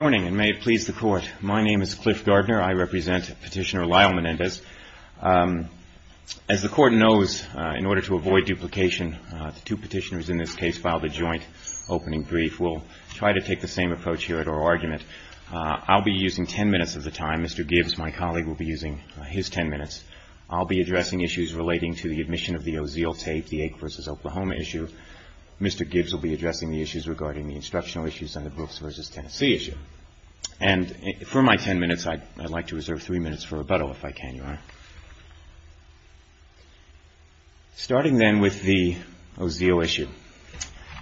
May it please the Court. My name is Cliff Gardner. I represent Petitioner Lyle Menendez. As the Court knows, in order to avoid duplication, the two petitioners in this case filed a joint opening brief. We'll try to take the same approach here at our argument. I'll be using ten minutes of the time. Mr. Gibbs, my colleague, will be using his ten minutes. I'll be addressing issues relating to the admission of the Ozeal tape, the Ake v. Oklahoma issue. Mr. Gibbs will be addressing the issues regarding the instructional issues and the Brooks v. Tennessee issue. And for my ten minutes, I'd like to reserve three minutes for rebuttal, if I can, Your Honor. Starting then with the Ozeal issue,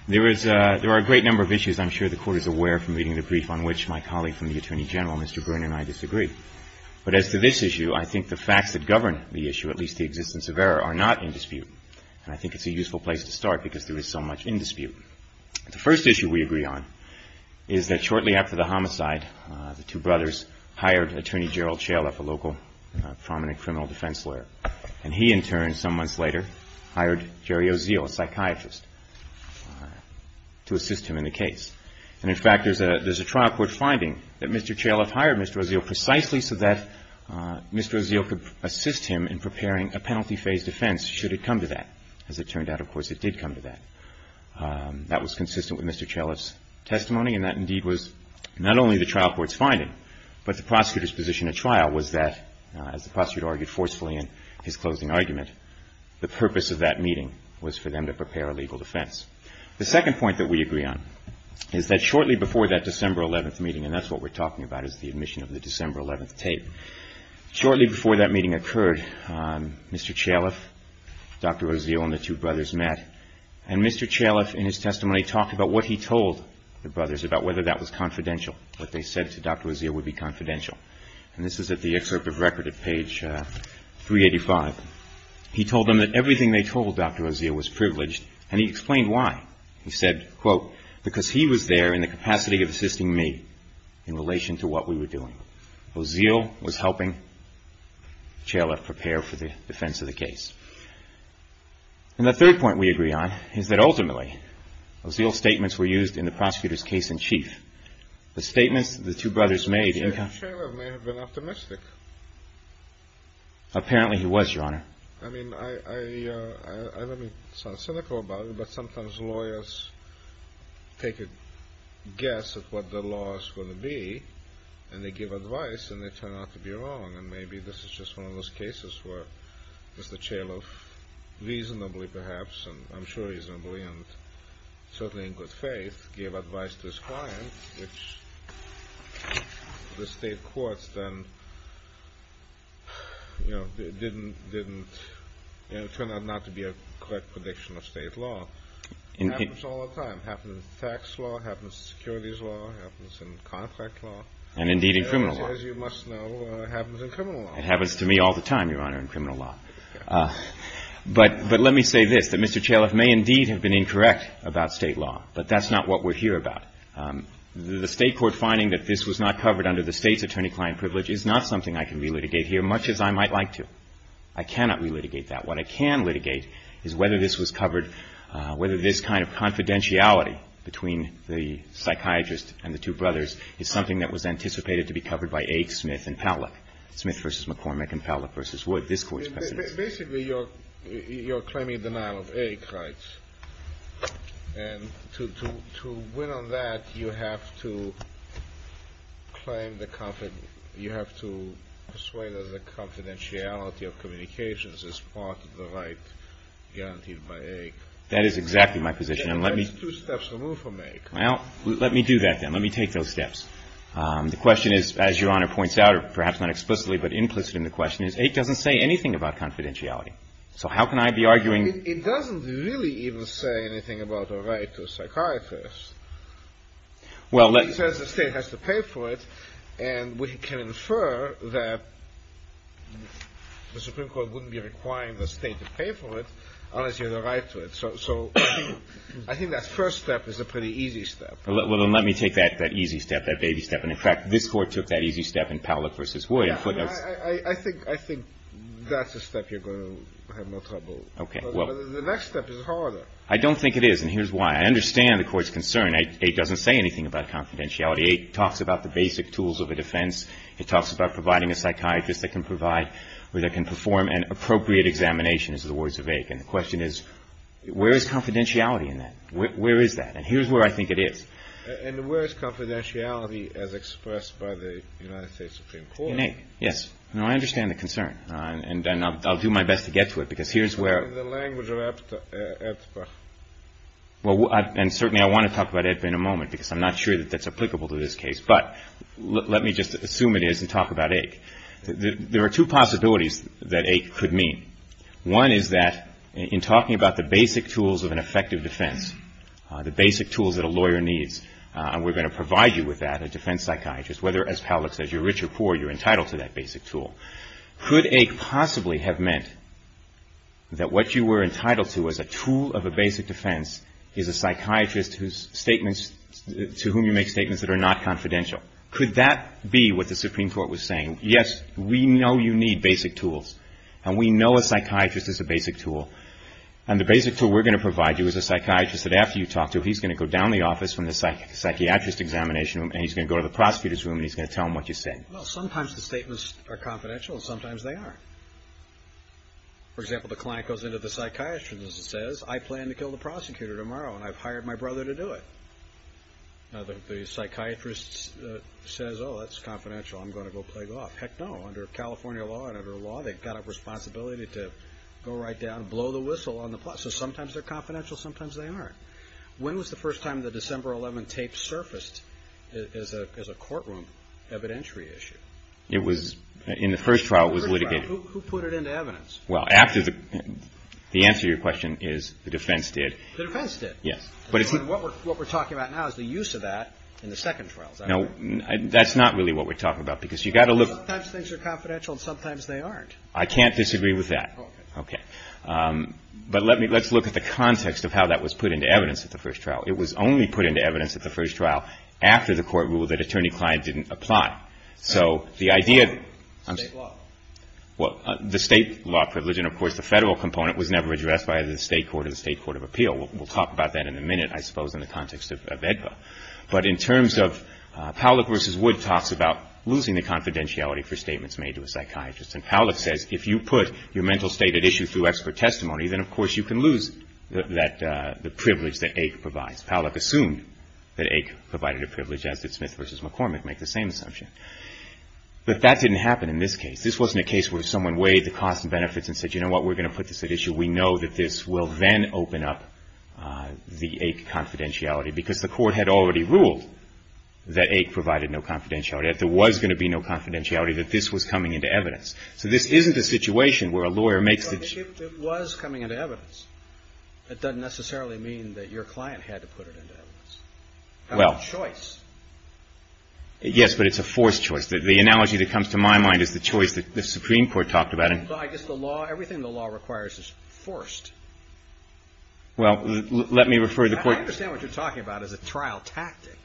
there is a – there are a great number of issues I'm sure the Court is aware from reading the brief on which my colleague from the Attorney General, Mr. Byrne, and I disagree. But as to this issue, I think the facts that govern the issue, at least the existence of error, are not in dispute. And I think it's a useful place to start because there is so much in dispute. The first issue we agree on is that shortly after the homicide, the two brothers hired Attorney Gerald Chalif, a local prominent criminal defense lawyer. And he, in turn, some months later, hired Jerry Ozeal, a psychiatrist, to assist him in the case. And in fact, there's a trial court finding that Mr. Chalif hired Mr. Ozeal precisely so that Mr. Ozeal could assist him in preparing a penalty-phase defense, should it come to that, as it turned out, of course, it did come to that. That was consistent with Mr. Chalif's testimony, and that indeed was not only the trial court's finding, but the prosecutor's position at trial was that, as the prosecutor argued forcefully in his closing argument, the purpose of that meeting was for them to prepare a legal defense. The second point that we agree on is that shortly before that December 11th meeting – and that's what we're talking about, is the admission of the December 11th tape Shortly before that meeting occurred, Mr. Chalif, Dr. Ozeal, and the two brothers met. And Mr. Chalif, in his testimony, talked about what he told the brothers, about whether that was confidential, what they said to Dr. Ozeal would be confidential. And this is at the excerpt of record at page 385. He told them that everything they told Dr. Ozeal was privileged, and he explained why. He said, quote, because he was there in the capacity of assisting me in relation to what we were doing. Ozeal was helping Chalif prepare for the defense of the case. And the third point we agree on is that ultimately, Ozeal's statements were used in the prosecutor's case in chief. The statements the two brothers made – Mr. Chalif may have been optimistic. Apparently he was, Your Honor. I mean, I don't mean to sound cynical about it, but sometimes lawyers take a guess at what the law is going to be, and they give advice, and they turn out to be wrong. And maybe this is just one of those cases where Mr. Chalif reasonably, perhaps, and I'm sure reasonably and certainly in good faith, gave advice to his client, which the state courts then, you know, didn't – you know, it turned out not to be a correct prediction of state law. It happens all the time. It happens in tax law. It happens in securities law. It happens in contract law. And indeed in criminal law. As you must know, it happens in criminal law. It happens to me all the time, Your Honor, in criminal law. But let me say this, that Mr. Chalif may indeed have been incorrect about state law, but that's not what we're here about. The state court finding that this was not covered under the state's attorney-client privilege is not something I can relitigate here, much as I might like to. I cannot relitigate that. What I can litigate is whether this was covered – whether this kind of confidentiality between the psychiatrist and the two brothers is something that was anticipated to be covered by Aik, Smith, and Powlick. Smith v. McCormick and Powlick v. Wood, this Court's precedents. Basically, you're claiming denial of Aik rights. And to win on that, you have to claim the – you have to persuade us that confidentiality of communications is part of the right guaranteed by Aik. That is exactly my position. And let me – That's two steps removed from Aik. Well, let me do that, then. Let me take those steps. The question is, as Your Honor points out, or perhaps not explicitly, but implicit in the question, is Aik doesn't say anything about confidentiality. So how can I be arguing – It doesn't really even say anything about a right to a psychiatrist. Well, let – It says the state has to pay for it. And we can infer that the Supreme Court wouldn't be requiring the state to pay for it unless you have a right to it. So I think that first step is a pretty easy step. Well, then let me take that easy step, that baby step. And, in fact, this Court took that easy step in Powlick v. Wood in footnotes. I think – I think that's a step you're going to have more trouble with. Okay. Well – But the next step is harder. I don't think it is. And here's why. I understand the Court's concern. Aik doesn't say anything about confidentiality. Aik talks about the basic tools of a defense. It talks about providing a psychiatrist that can provide – or that can perform an appropriate examination, as the words of Aik. And the question is, where is confidentiality in that? Where is that? And here's where I think it is. And where is confidentiality as expressed by the United States Supreme Court? In Aik, yes. No, I understand the concern. And I'll do my best to get to it, because here's where – In the language of Aiptbach. Well, and certainly I want to talk about Aiptbach in a moment, because I'm not sure that that's the right way to talk about Aik. There are two possibilities that Aik could mean. One is that, in talking about the basic tools of an effective defense, the basic tools that a lawyer needs, and we're going to provide you with that, a defense psychiatrist, whether as Pallack says, you're rich or poor, you're entitled to that basic tool. Could Aik possibly have meant that what you were entitled to as a tool of a basic defense is a psychiatrist whose statements – to whom you make statements that are not confidential? Could that be what the Supreme Court was saying? Yes, we know you need basic tools. And we know a psychiatrist is a basic tool. And the basic tool we're going to provide you is a psychiatrist that after you talk to him, he's going to go down the office from the psychiatrist examination room, and he's going to go to the prosecutor's room, and he's going to tell him what you said. Well, sometimes the statements are confidential, and sometimes they aren't. For example, the client goes into the psychiatrist's room and says, I plan to kill the prosecutor tomorrow, and I've hired my brother to do it. Now, the psychiatrist says, oh, that's confidential. I'm going to go play golf. Heck no. Under California law and under law, they've got a responsibility to go right down and blow the whistle on the plot. So sometimes they're confidential, sometimes they aren't. When was the first time the December 11 tape surfaced as a courtroom evidentiary issue? It was – in the first trial, it was litigated. Who put it into evidence? Well, after the – the answer to your question is the defense did. The defense did. Yes. But it's – What we're – what we're talking about now is the use of that in the second trial. No, that's not really what we're talking about, because you've got to look – Sometimes things are confidential, and sometimes they aren't. I can't disagree with that. Okay. Okay. But let me – let's look at the context of how that was put into evidence at the first trial. It was only put into evidence at the first trial after the Court ruled that attorney-client didn't apply. So the idea – State law. Well, the State law privilege, and of course the Federal component, was never addressed by either the State court or the State court of appeal. We'll talk about that in a minute, I suppose, in the context of AEDPA. But in terms of – Powlick v. Wood talks about losing the confidentiality for statements made to a psychiatrist, and Powlick says if you put your mental state at issue through expert testimony, then of course you can lose that – the privilege that AIC provides. Powlick assumed that AIC provided a privilege, as did Smith v. McCormick make the same assumption. But that didn't happen in this case. This wasn't a case where someone weighed the costs and benefits and said, you know what, we're going to put this at issue. We know that this will then open up the AIC confidentiality, because the Court had already ruled that AIC provided no confidentiality. That there was going to be no confidentiality, that this was coming into evidence. So this isn't a situation where a lawyer makes the – But if it was coming into evidence, that doesn't necessarily mean that your client had to put it into evidence. Well – It's a choice. Yes, but it's a forced choice. The analogy that comes to my mind is the choice that the Supreme Court talked about – Well, I guess the law – everything the law requires is forced. Well, let me refer to the Court – I understand what you're talking about as a trial tactic.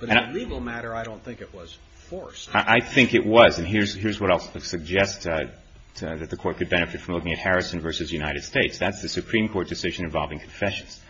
But in a legal matter, I don't think it was forced. I think it was. And here's what I'll suggest that the Court could benefit from looking at Harrison v. United States. That's the Supreme Court decision involving confessions.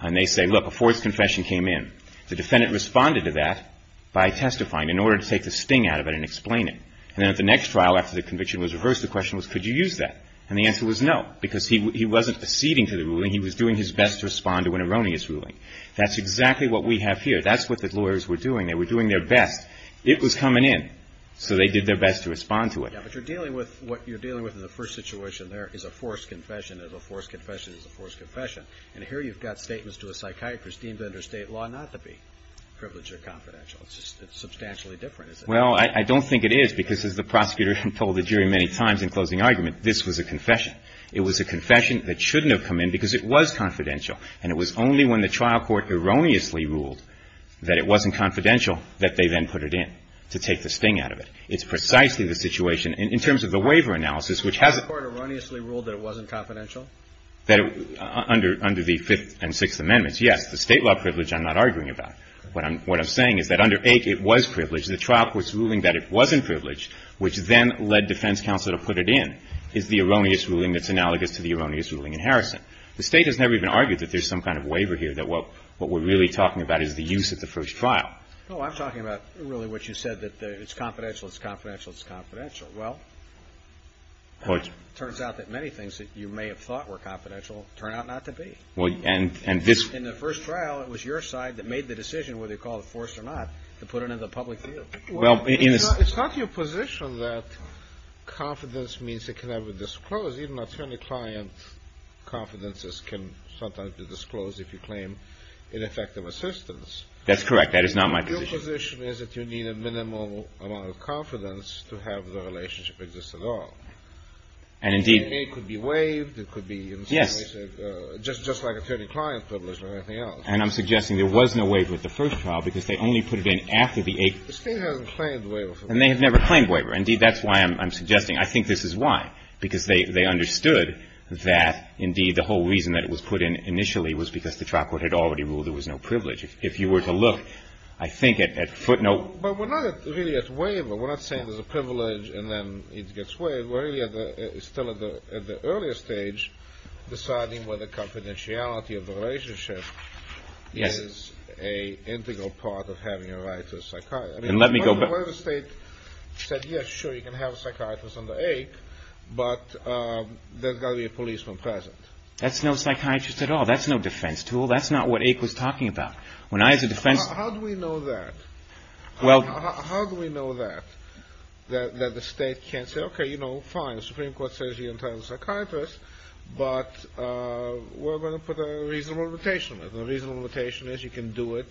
And they say, look, a forced confession came in. The defendant responded to that by testifying in order to take the sting out of it and explain it. And then at the next trial after the conviction was reversed, the question was, could you use that? And the answer was no, because he wasn't acceding to the ruling. He was doing his best to respond to an erroneous ruling. That's exactly what we have here. That's what the lawyers were doing. They were doing their best. It was coming in. So they did their best to respond to it. Yeah, but you're dealing with – what you're dealing with in the first situation there is a forced confession. There's a forced confession. There's a forced confession. And here you've got statements to a psychiatrist deemed under state law not to be privileged Well, I don't think it is, because as the prosecutor told the jury many times in closing argument, this was a confession. It was a confession that shouldn't have come in because it was confidential. And it was only when the trial court erroneously ruled that it wasn't confidential that they then put it in to take the sting out of it. It's precisely the situation – in terms of the waiver analysis, which has a – The trial court erroneously ruled that it wasn't confidential? Under the Fifth and Sixth Amendments, yes. The state law privilege I'm not arguing about. What I'm saying is that under A, it was privileged. The trial court's ruling that it wasn't privileged, which then led defense counsel to put it in, is the erroneous ruling that's analogous to the erroneous ruling in Harrison. The state has never even argued that there's some kind of waiver here, that what we're really talking about is the use of the first trial. No, I'm talking about really what you said, that it's confidential, it's confidential, it's confidential. Well, it turns out that many things that you may have thought were confidential turn out not to be. In the first trial, it was your side that made the decision whether to call it forced or not, to put it in the public field. Well, it's not your position that confidence means it can never be disclosed. Even attorney client confidences can sometimes be disclosed if you claim ineffective assistance. That's correct. That is not my position. Your position is that you need a minimal amount of confidence to have the relationship exist at all. And indeed – Yes. And I'm suggesting there was no waiver at the first trial because they only put it in after the eighth – The state hasn't claimed the waiver. And they have never claimed waiver. Indeed, that's why I'm suggesting. I think this is why, because they understood that, indeed, the whole reason that it was put in initially was because the trial court had already ruled there was no privilege. If you were to look, I think, at footnote – But we're not really at waiver. We're not saying there's a privilege and then stage deciding whether confidentiality of the relationship is a integral part of having a right to a psychiatrist. And let me go back – I mean, what if the state said, yes, sure, you can have a psychiatrist under AIC, but there's got to be a policeman present? That's no psychiatrist at all. That's no defense tool. That's not what AIC was talking about. When I, as a defense – How do we know that? Well – How do we know that? That the state can't say, okay, you know, fine, the Supreme Court says you're entitled to a psychiatrist, but we're going to put a reasonable limitation on it. And the reasonable limitation is you can do it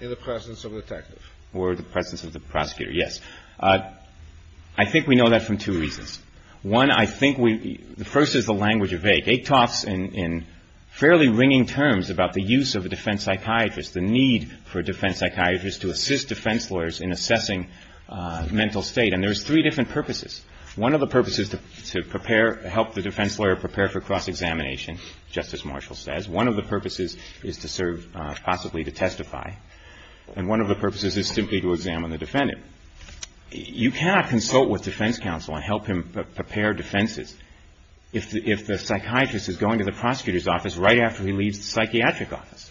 in the presence of a detective. Or the presence of the prosecutor, yes. I think we know that from two reasons. One, I think we – the first is the language of AIC. AIC talks in fairly ringing terms about the use of a defense psychiatrist, the need for a defense psychiatrist to assist defense lawyers in assessing mental state. And there's three different purposes. One of the purposes is to prepare – help the defense lawyer prepare for cross-examination, just as Marshall says. One of the purposes is to serve possibly to testify. And one of the purposes is simply to examine the defendant. You cannot consult with defense counsel and help him prepare defenses if the psychiatrist is going to the prosecutor's office right after he leaves the psychiatric office.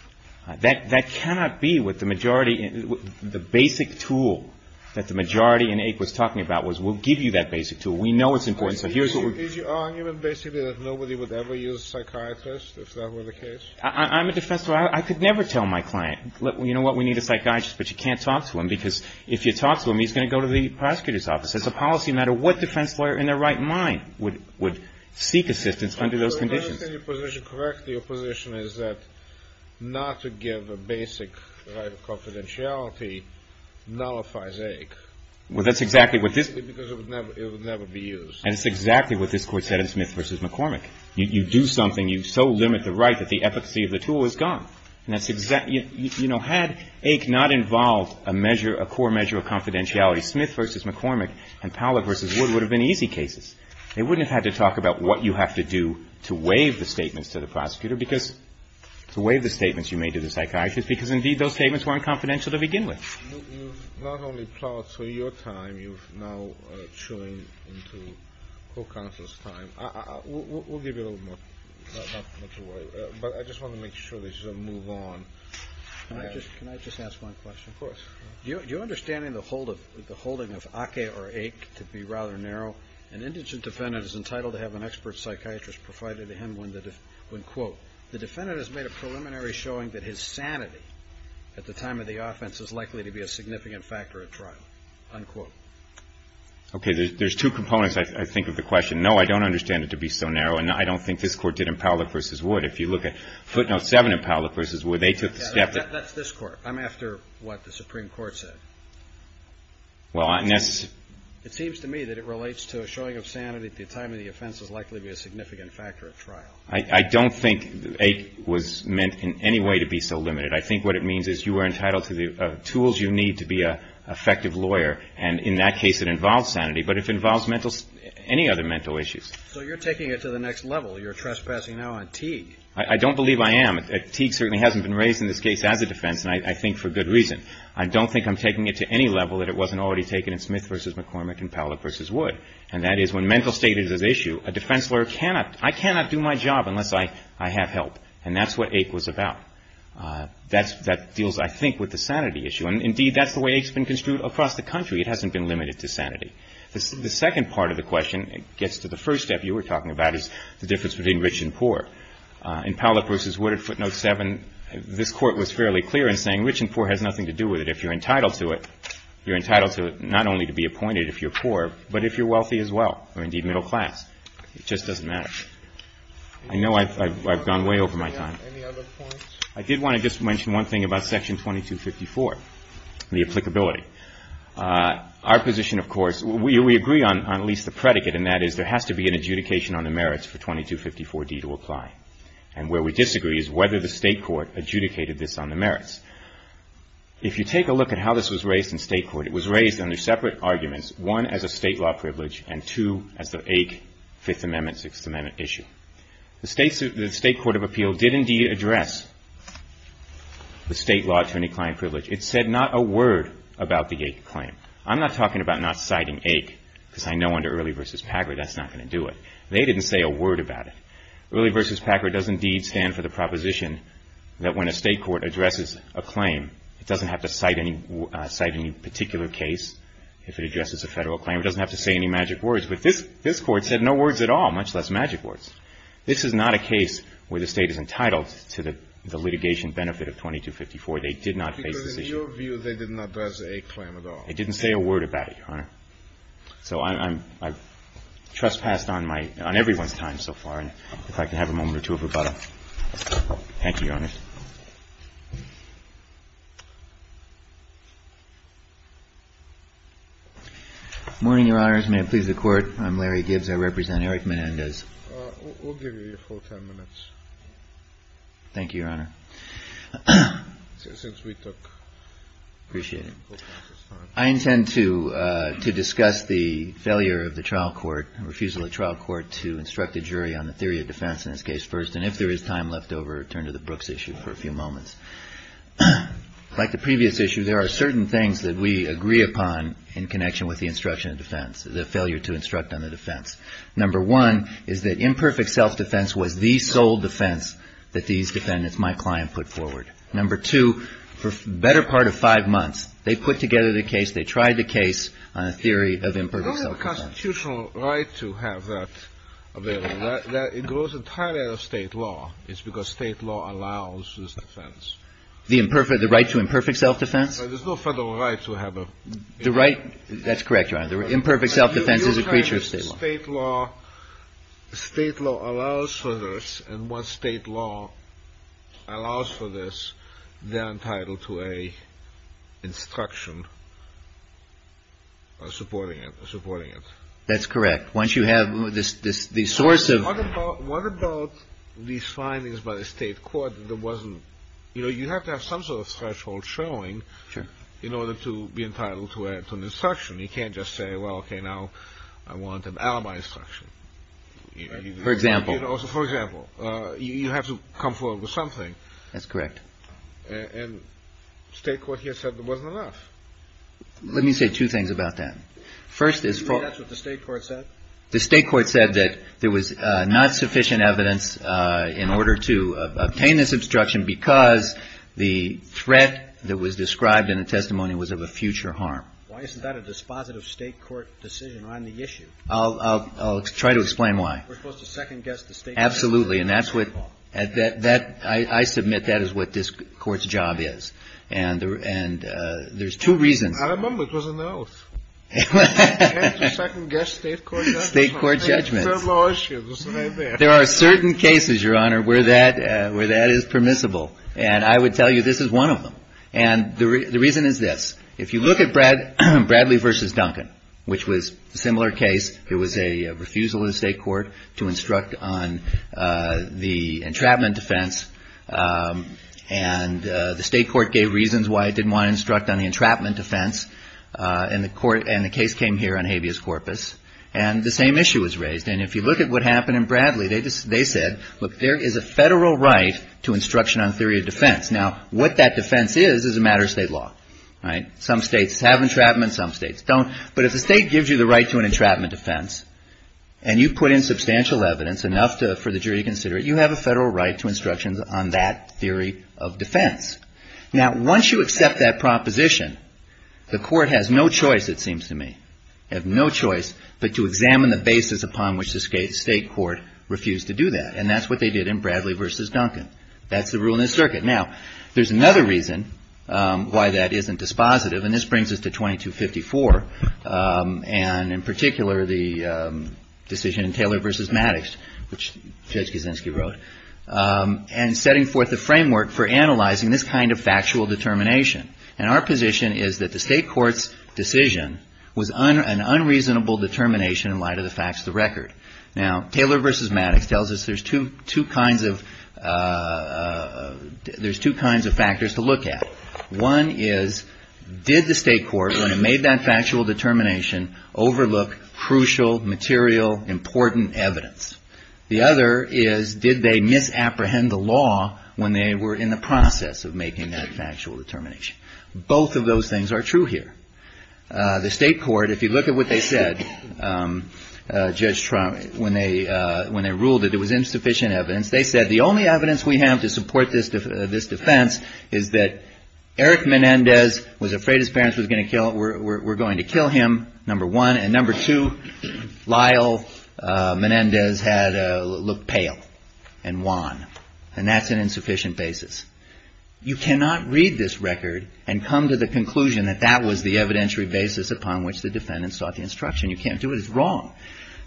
That cannot be what the majority – the basic tool that the majority in AIC was talking about was we'll give you that basic tool. We know it's important. Is your argument basically that nobody would ever use a psychiatrist if that were the case? I'm a defense lawyer. I could never tell my client, you know what, we need a psychiatrist, but you can't talk to him. Because if you talk to him, he's going to go to the prosecutor's office. It's a policy matter. What defense lawyer in their right mind would seek assistance under those conditions? To understand your position correctly, your position is that not to give a basic right of confidentiality nullifies AIC. Well, that's exactly what this – Because it would never be used. And it's exactly what this Court said in Smith v. McCormick. You do something, you so limit the right that the efficacy of the tool is gone. And that's exactly – you know, had AIC not involved a measure, a core measure of confidentiality, Smith v. McCormick and Powlett v. Wood would have been easy cases. They wouldn't have had to talk about what you have to do to waive the statements to the prosecutor because – to waive the statements you made to the psychiatrist because, indeed, those statements weren't confidential to begin with. You've not only plowed through your time, you've now chewed into the whole counsel's time. We'll give you a little more – not much more. But I just want to make sure this doesn't move on. Can I just ask one question? Of course. Do you understand the holding of AKE or AIC to be rather narrow? An indigent defendant is entitled to have an expert psychiatrist provided to him when, quote, the defendant has made a preliminary showing that his sanity at the time of the offense is likely to be a significant factor at trial, unquote. Okay. There's two components, I think, of the question. No, I don't understand it to be so narrow, and I don't think this Court did in Powlett v. Wood. If you look at footnote 7 in Powlett v. Wood, they took the step that – That's this Court. I'm after what the Supreme Court said. Well, I – It seems to me that it relates to a showing of sanity at the time of the offense is likely to be a significant factor at trial. I don't think AKE was meant in any way to be so limited. I think what it means is that if you are entitled to the tools you need to be an effective lawyer, and in that case it involves sanity, but if it involves mental – any other mental issues. So you're taking it to the next level. You're trespassing now on Teague. I don't believe I am. Teague certainly hasn't been raised in this case as a defense, and I think for good reason. I don't think I'm taking it to any level that it wasn't already taken in Smith v. McCormick and Powlett v. Wood, and that is when mental state is an issue, a defense lawyer cannot – I cannot do my job unless I have help, and that's what AKE was about. That deals I think with the sanity issue, and indeed that's the way AKE's been construed across the country. It hasn't been limited to sanity. The second part of the question gets to the first step you were talking about is the difference between rich and poor. In Powlett v. Wood at footnote 7, this Court was fairly clear in saying rich and poor has nothing to do with it. If you're entitled to it, you're entitled to it not only to be appointed if you're poor, but if you're wealthy as well or indeed middle class. It just doesn't matter. I know I've gone way over my time. Any other points? I did want to just mention one thing about Section 2254, the applicability. Our position, of course, we agree on at least the predicate, and that is there has to be an adjudication on the merits for 2254D to apply. And where we disagree is whether the State Court adjudicated this on the merits. If you take a look at how this was raised in State Court, it was raised under separate arguments, one as a State law privilege and two as the AKE Fifth Amendment, Sixth Amendment issue. The State Court of Appeal did indeed address the State law to any client privilege. It said not a word about the AKE claim. I'm not talking about not citing AKE because I know under Early v. Packard that's not going to do it. They didn't say a word about it. Early v. Packard does indeed stand for the proposition that when a State court addresses a claim, it doesn't have to cite any particular case if it addresses a Federal claim. It doesn't have to say any magic words. But this Court said no words at all, much less magic words. This is not a case where the State is entitled to the litigation benefit of 2254. They did not face this issue. Because in your view, they did not address the AKE claim at all. They didn't say a word about it, Your Honor. So I've trespassed on everyone's time so far, and if I could have a moment or two of rebuttal. Thank you, Your Honor. Larry Gibbs Good morning, Your Honors. May it please the Court, I'm Larry Gibbs. I represent Eric Menendez. Eric Menendez We'll give you four ten minutes. Larry Gibbs Thank you, Your Honor. Eric Menendez Since we took four ten minutes. Larry Gibbs Appreciate it. I intend to discuss the failure of the trial court, refusal of the trial court to instruct the jury on the theory of defense in this case first, and if there is time left over, turn to the Brooks issue for a few moments. Like the previous issue, there are certain things that we agree upon in connection with the instruction of defense, the failure to instruct on the defense. Number one is that imperfect self-defense was the sole defense that these defendants, my client, put forward. Number two, for the better part of five months, they put together the case, they tried the case on a theory of imperfect self-defense. The constitutional right to have that available, it goes entirely out of state law. It's because state law allows this defense. Larry Gibbs The right to imperfect self-defense? Eric Menendez There's no federal right to have a ---- Larry Gibbs The right, that's correct, Your Honor. The imperfect self-defense is a creature of state law. Eric Menendez State law allows for this, and once state law allows for this, they're entitled to an instruction supporting it. Larry Gibbs That's correct. Once you have the source of ---- Eric Menendez What about these findings by the state court that wasn't, you know, you have to have some sort of threshold showing in order to be entitled to an instruction. You can't just say, well, okay, now I want an alibi instruction. Larry Gibbs For example. Eric Menendez For example. You have to come forward with something. Larry Gibbs That's correct. And state court here said there wasn't enough. Eric Menendez Let me say two things about that. First is for ---- Larry Gibbs You think that's what the state court said? Eric Menendez The state court said that there was not sufficient evidence in order to obtain this instruction because the threat that was described in the testimony was of a future harm. Larry Gibbs Why isn't that a dispositive state court decision on the issue? Eric Menendez I'll try to explain why. Larry Gibbs We're supposed to second-guess the state court. Eric Menendez Absolutely. And that's what ---- I submit that is what this court's job is. And there's two reasons. Larry Gibbs I remember it was an oath. Eric Menendez State court judgments. Larry Gibbs There are certain cases, Your Honor, where that is permissible. And I would tell you this is one of them. And the reason is this. If you look at Bradley v. Duncan, which was the entrapment defense, and the state court gave reasons why it didn't want to instruct on the entrapment defense, and the case came here on habeas corpus, and the same issue was raised. And if you look at what happened in Bradley, they said, look, there is a federal right to instruction on theory of defense. Now, what that defense is is a matter of state law. Some states have entrapment, some states don't. But if the state gives you the right to an entrapment defense and you put in substantial evidence, enough for the jury to consider it, you have a federal right to instructions on that theory of defense. Now, once you accept that proposition, the court has no choice, it seems to me. They have no choice but to examine the basis upon which the state court refused to do that. And that's what they did in Bradley v. Duncan. That's the rule in this circuit. Now, there's another reason why that isn't dispositive, and this brings us to 2254, and in particular the decision in Taylor v. Maddox, which Judge Kaczynski wrote, and setting forth a framework for analyzing this kind of factual determination. And our position is that the state court's decision was an unreasonable determination in light of the facts of the case. There's two kinds of factors to look at. One is, did the state court, when it made that factual determination, overlook crucial, material, important evidence? The other is, did they misapprehend the law when they were in the process of making that factual determination? Both of those things are true here. The state court, if you look at what they said, Judge Trump, when they ruled that it was insufficient evidence, they said the only evidence we have to support this defense is that Eric Menendez was afraid his parents were going to kill him, number one, and number two, Lyle Menendez looked pale and wan, and that's an insufficient basis. You cannot read this record and come to the conclusion that that was the evidentiary basis upon which the defendants sought the instruction. You can't do it. It's wrong.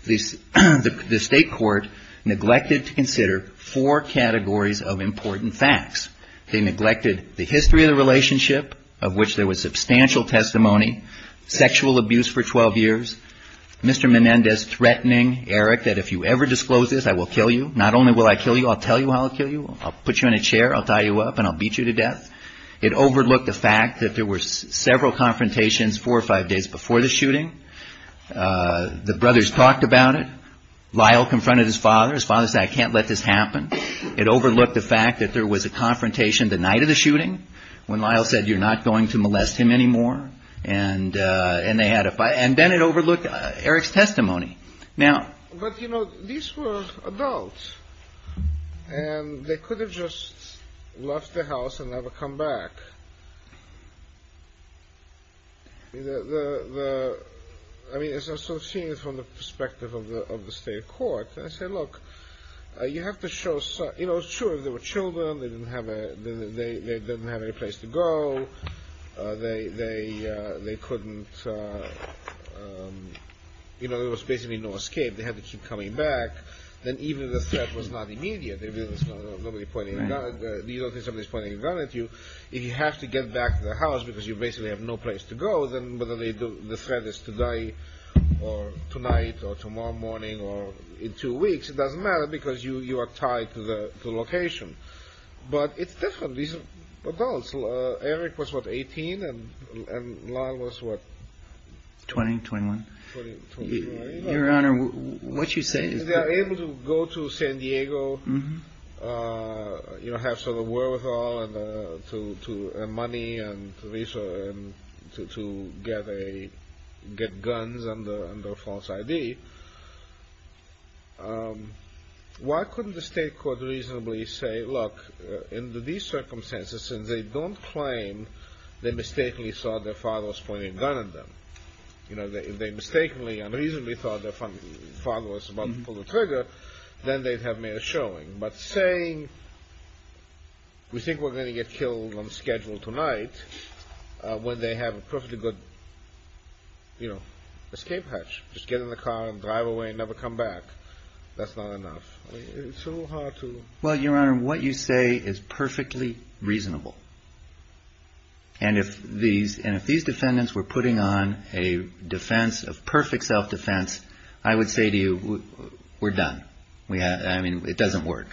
The state court neglected to consider four categories of important facts. They neglected the history of the relationship, of which there was substantial testimony, sexual abuse for 12 years, Mr. Menendez threatening Eric that if you ever disclose this, I will kill you. Not only will I kill you, I'll tell you how I'll kill you. I'll put you in a chair, I'll tie you up and I'll beat you to death. It overlooked the fact that there were several confrontations four or five days before the brothers talked about it. Lyle confronted his father. His father said I can't let this happen. It overlooked the fact that there was a confrontation the night of the shooting when Lyle said you're not going to molest him anymore. And then it overlooked Eric's testimony. But, you know, these were adults. And they could have just left the house and never come back. I mean, as I'm so seeing it from the perspective of the state court, I say, look, you have to show, you know, sure, there were children. They didn't have any place to go. They couldn't, you know, there was basically no escape. They had to keep coming back. Then even if the threat was not immediate, nobody pointed a gun at you, if you have to get back to the house because you basically have no place to go, then whether the threat is today or tonight or tomorrow morning or in two weeks, it doesn't matter because you are tied to the location. But it's different. These are adults. Eric was, what, 18 and Lyle was, what? 20, 21. Your Honor, what you're saying is that They are able to go to San Diego, you know, have some of the wherewithal and money and to get guns under a false ID. Why couldn't the state court reasonably say, look, in these circumstances, since they don't claim they mistakenly saw their fathers pointing a gun at them, you know, they mistakenly and reasonably thought their father was about to pull the trigger, then they'd have merit showing. But saying, we think we're going to get killed on schedule tonight when they have a perfectly good, you know, escape hatch. Just get in the car and drive away and never come back. That's not enough. It's a little hard to Well, Your Honor, what you say is perfectly reasonable. And if these defendants were putting on a defense of perfect self-defense, I would say to you, we're done. I mean, it doesn't work.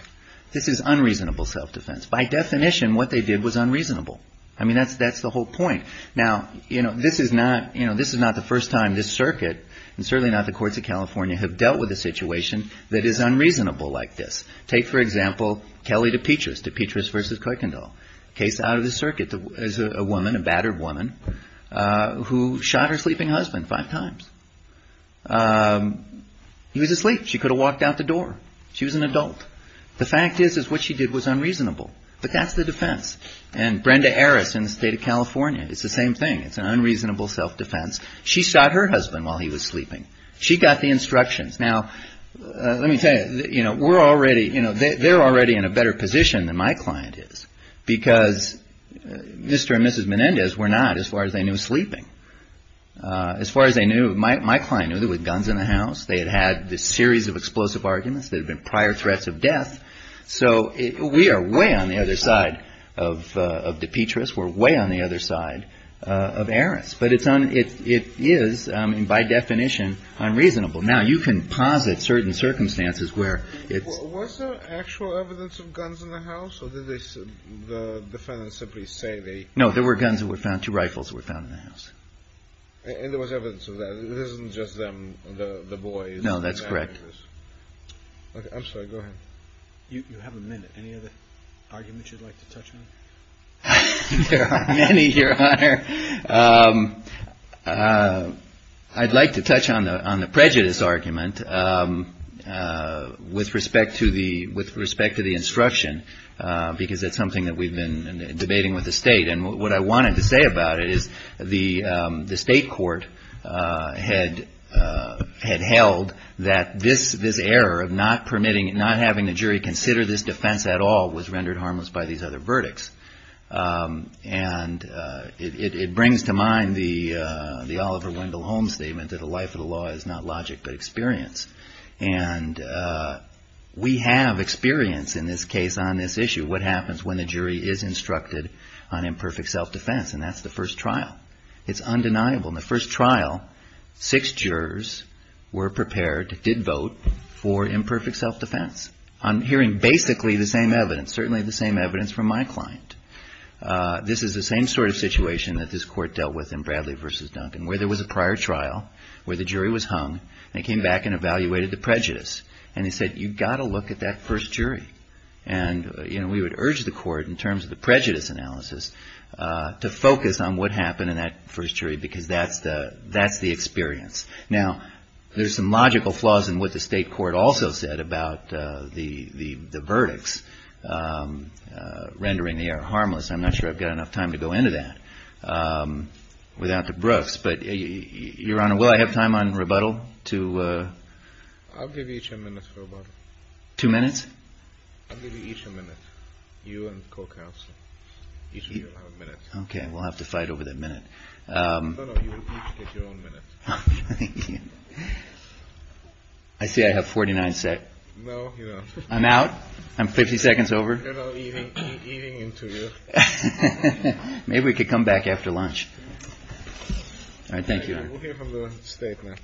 This is unreasonable self-defense. By definition, what they did was unreasonable. I mean, that's that's the whole point. Now, you know, this is not, you know, this is not the first time this circuit and certainly not the courts of California have dealt with a situation that is unreasonable like this. Take, for example, Kelly DePetris, DePetris versus Kuykendall. Case out of the circuit is a woman, a battered woman, who shot her husband at the door. She was an adult. The fact is, is what she did was unreasonable. But that's the defense. And Brenda Harris in the state of California, it's the same thing. It's an unreasonable self-defense. She shot her husband while he was sleeping. She got the instructions. Now, let me tell you, you know, we're already, you know, they're already in a better position than my client is because Mr. and Mrs. Menendez were not as far as they knew sleeping. As far as they knew, my client knew there were guns in the house. There had been prior threats of death. So we are way on the other side of DePetris. We're way on the other side of Harris. But it is, by definition, unreasonable. Now, you can posit certain circumstances where it's... Was there actual evidence of guns in the house or did the defendants simply say they... No, there were guns that were found, two rifles that were found in the house. And there was evidence of that. It isn't just them, the boys... No, that's correct. I'm sorry. Go ahead. You have a minute. Any other arguments you'd like to touch on? There are many, Your Honor. I'd like to touch on the prejudice argument with respect to the instruction because it's something that we've been debating with the state. And what this error of not permitting, not having the jury consider this defense at all was rendered harmless by these other verdicts. And it brings to mind the Oliver Wendell Holmes statement that the life of the law is not logic but experience. And we have experience in this case on this issue, what happens when the jury is instructed on imperfect self-defense. And that's the first trial. It's undeniable. In the first trial, six jurors were prepared, did vote, for imperfect self-defense. I'm hearing basically the same evidence, certainly the same evidence from my client. This is the same sort of situation that this court dealt with in Bradley v. Duncan, where there was a prior trial where the jury was hung and they came back and evaluated the prejudice. And they said, you've got to look at that prejudice analysis to focus on what happened in that first jury because that's the experience. Now, there's some logical flaws in what the state court also said about the verdicts rendering the error harmless. I'm not sure I've got enough time to go into that without the Brooks. But, Your Honor, will I have time on rebuttal to... I'll give each a minute for rebuttal. Two minutes? I'll give you each a minute. You and co-counsel. Each of you will have a minute. Okay, we'll have to fight over that minute. No, no, you each get your own minute. Thank you. I see I have 49 seconds. No, you don't. I'm out? I'm 50 seconds over? You're not eating interview. Maybe we could come back after lunch. All right, thank you. We'll hear from the state now.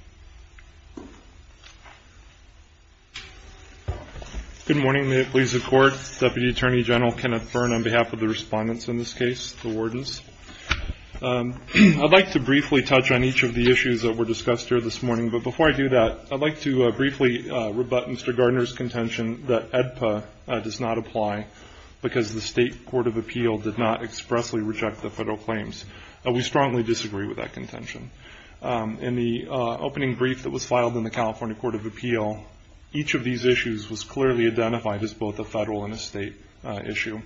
Good morning. May it please the Court. Deputy Attorney General Kenneth Byrne on behalf of the respondents in this case, the wardens. I'd like to briefly touch on each of the issues that were discussed here this morning. But before I do that, I'd like to briefly rebut Mr. Gardner's contention that AEDPA does not apply because the state court of appeal did not expressly reject the federal claims. We strongly disagree with that contention. In the opening brief that was filed in the California Court of Appeal, each of these issues was clearly identified as both a federal and a state issue.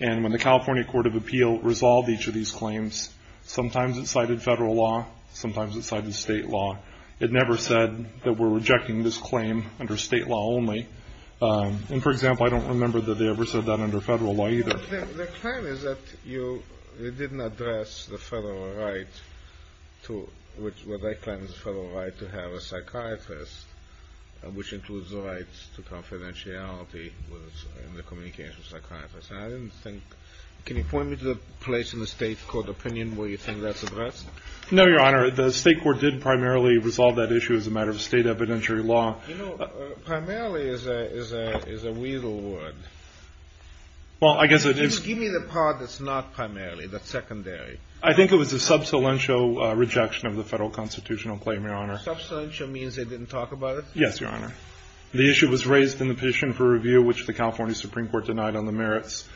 And when the California Court of Appeal resolved each of these claims, sometimes it cited federal law, sometimes it cited state law. It never said that we're rejecting this claim under state law only. And, for example, I don't remember that they ever said that under federal law either. The claim is that you didn't address the federal right to have a psychiatrist, which includes the rights to confidentiality in the communication of a psychiatrist. Can you point me to the place in the state court opinion where you think that's addressed? No, Your Honor. The state court did primarily resolve that issue as a matter of state evidentiary law. You know, primarily is a weasel word. Well, I guess it is. Give me the part that's not primarily, that's secondary. I think it was a substantial rejection of the federal constitutional claim, Your Honor. Substantial means they didn't talk about it? Yes, Your Honor. The issue was raised in the petition for review, which the California Supreme Court denied on the merits.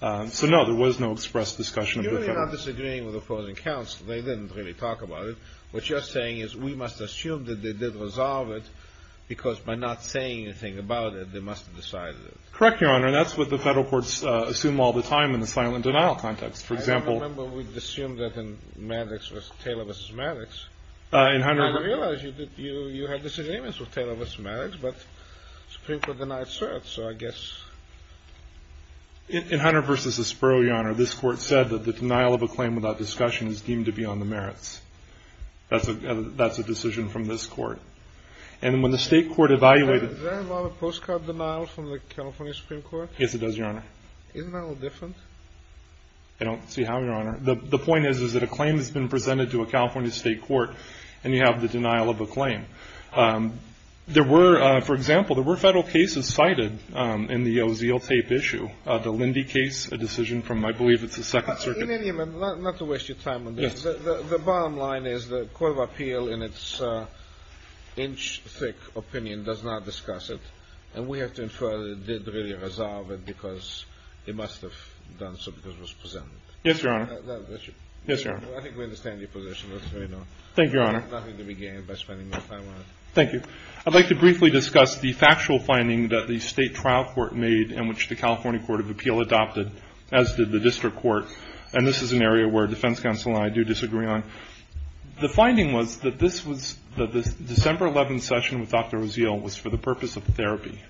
So, no, there was no express discussion of the federal. You're really not disagreeing with opposing counsel. They didn't really talk about it. What you're saying is we must assume that they did resolve it because by not saying anything about it, they must have decided it. Correct, Your Honor. And that's what the federal courts assume all the time in the silent denial context. For example. I don't remember we assumed that in Maddox was Taylor v. Maddox. In Hunter. I didn't realize you had disagreements with Taylor v. Maddox, but the Supreme Court denied cert, so I guess. In Hunter v. Espero, Your Honor, this Court said that the denial of a claim without discussion is deemed to be on the merits. That's a decision from this Court. And when the state court evaluated. Does that involve a postcard denial from the California Supreme Court? Yes, it does, Your Honor. Isn't that a little different? I don't see how, Your Honor. The point is that a claim has been presented to a California state court, and you have the denial of a claim. There were, for example, there were federal cases cited in the Ozeal tape issue. The Lindy case, a decision from I believe it's the Second Circuit. In any event, not to waste your time on this. The bottom line is the Court of Appeal in its inch-thick opinion does not discuss it. And we have to infer that it did really resolve it because it must have done so because it was presented. Yes, Your Honor. I think we understand your position. Thank you, Your Honor. Nothing to be gained by spending more time on it. Thank you. I'd like to briefly discuss the factual finding that the state trial court made in which the California Court of Appeal adopted, as did the district court. And this is an area where defense counsel and I do disagree on. The finding was that this December 11th session with Dr. Ozeal was for the purpose of therapy.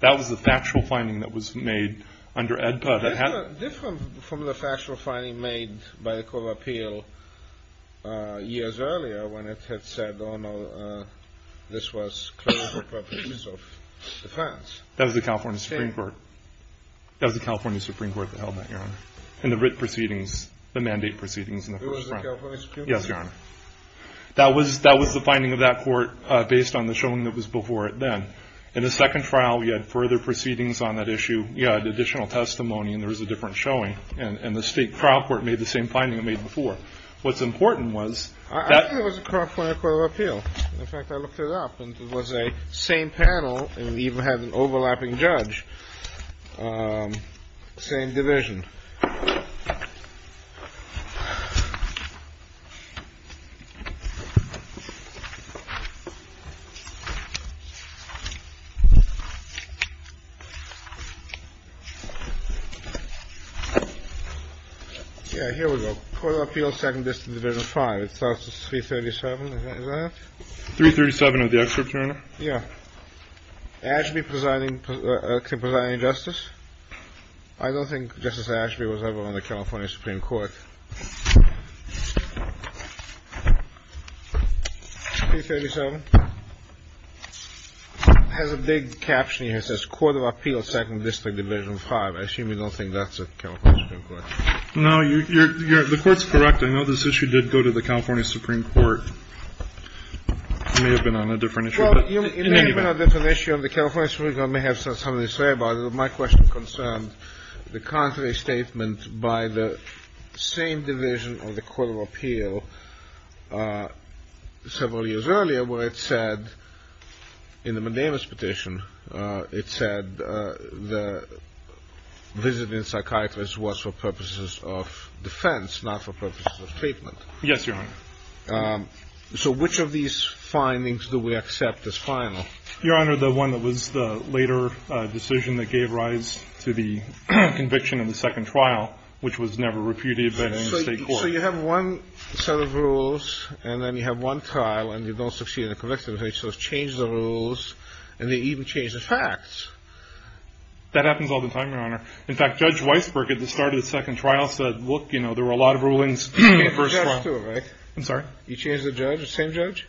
That was the factual finding that was made under AEDPA. Different from the factual finding made by the Court of Appeal years earlier when it had said, oh, no, this was clearly for purposes of defense. That was the California Supreme Court. That was the California Supreme Court that held that, Your Honor. And the writ proceedings, the mandate proceedings in the first instance. It was the California Supreme Court. Yes, Your Honor. That was the finding of that court based on the showing that was before it then. In the second trial, we had further proceedings on that issue. We had additional testimony, and there was a different showing. And the state trial court made the same finding it made before. What's important was that — I think it was the California Court of Appeal. In fact, I looked it up. It was a same panel. And we even had an overlapping judge. Same division. Yeah, here we go. Court of Appeal, Second District, Division V. It starts with 337. Is that it? 337 of the excerpt, Your Honor. Yeah. Ashby presiding — presiding justice. I don't think Justice Ashby was ever on the California Supreme Court. 337. It has a big caption here. It says, Court of Appeal, Second District, Division V. I assume you don't think that's the California Supreme Court. No. The Court's correct. I know this issue did go to the California Supreme Court. It may have been on a different issue. Well, it may have been on a different issue. The California Supreme Court may have something to say about it. My question concerns the contrary statement by the same division of the Court of Appeal several years earlier where it said, in the Medeiros petition, it said the visiting psychiatrist was for purposes of defense, not for purposes of treatment. Yes, Your Honor. So which of these findings do we accept as final? Your Honor, the one that was the later decision that gave rise to the conviction in the second trial, which was never reputed by the state court. So you have one set of rules, and then you have one trial, and they don't succeed in the conviction. They sort of change the rules, and they even change the facts. That happens all the time, Your Honor. In fact, Judge Weisberg, at the start of the second trial, said, look, you know, there were a lot of rulings from the first trial. I'm sorry? You changed the judge? The same judge?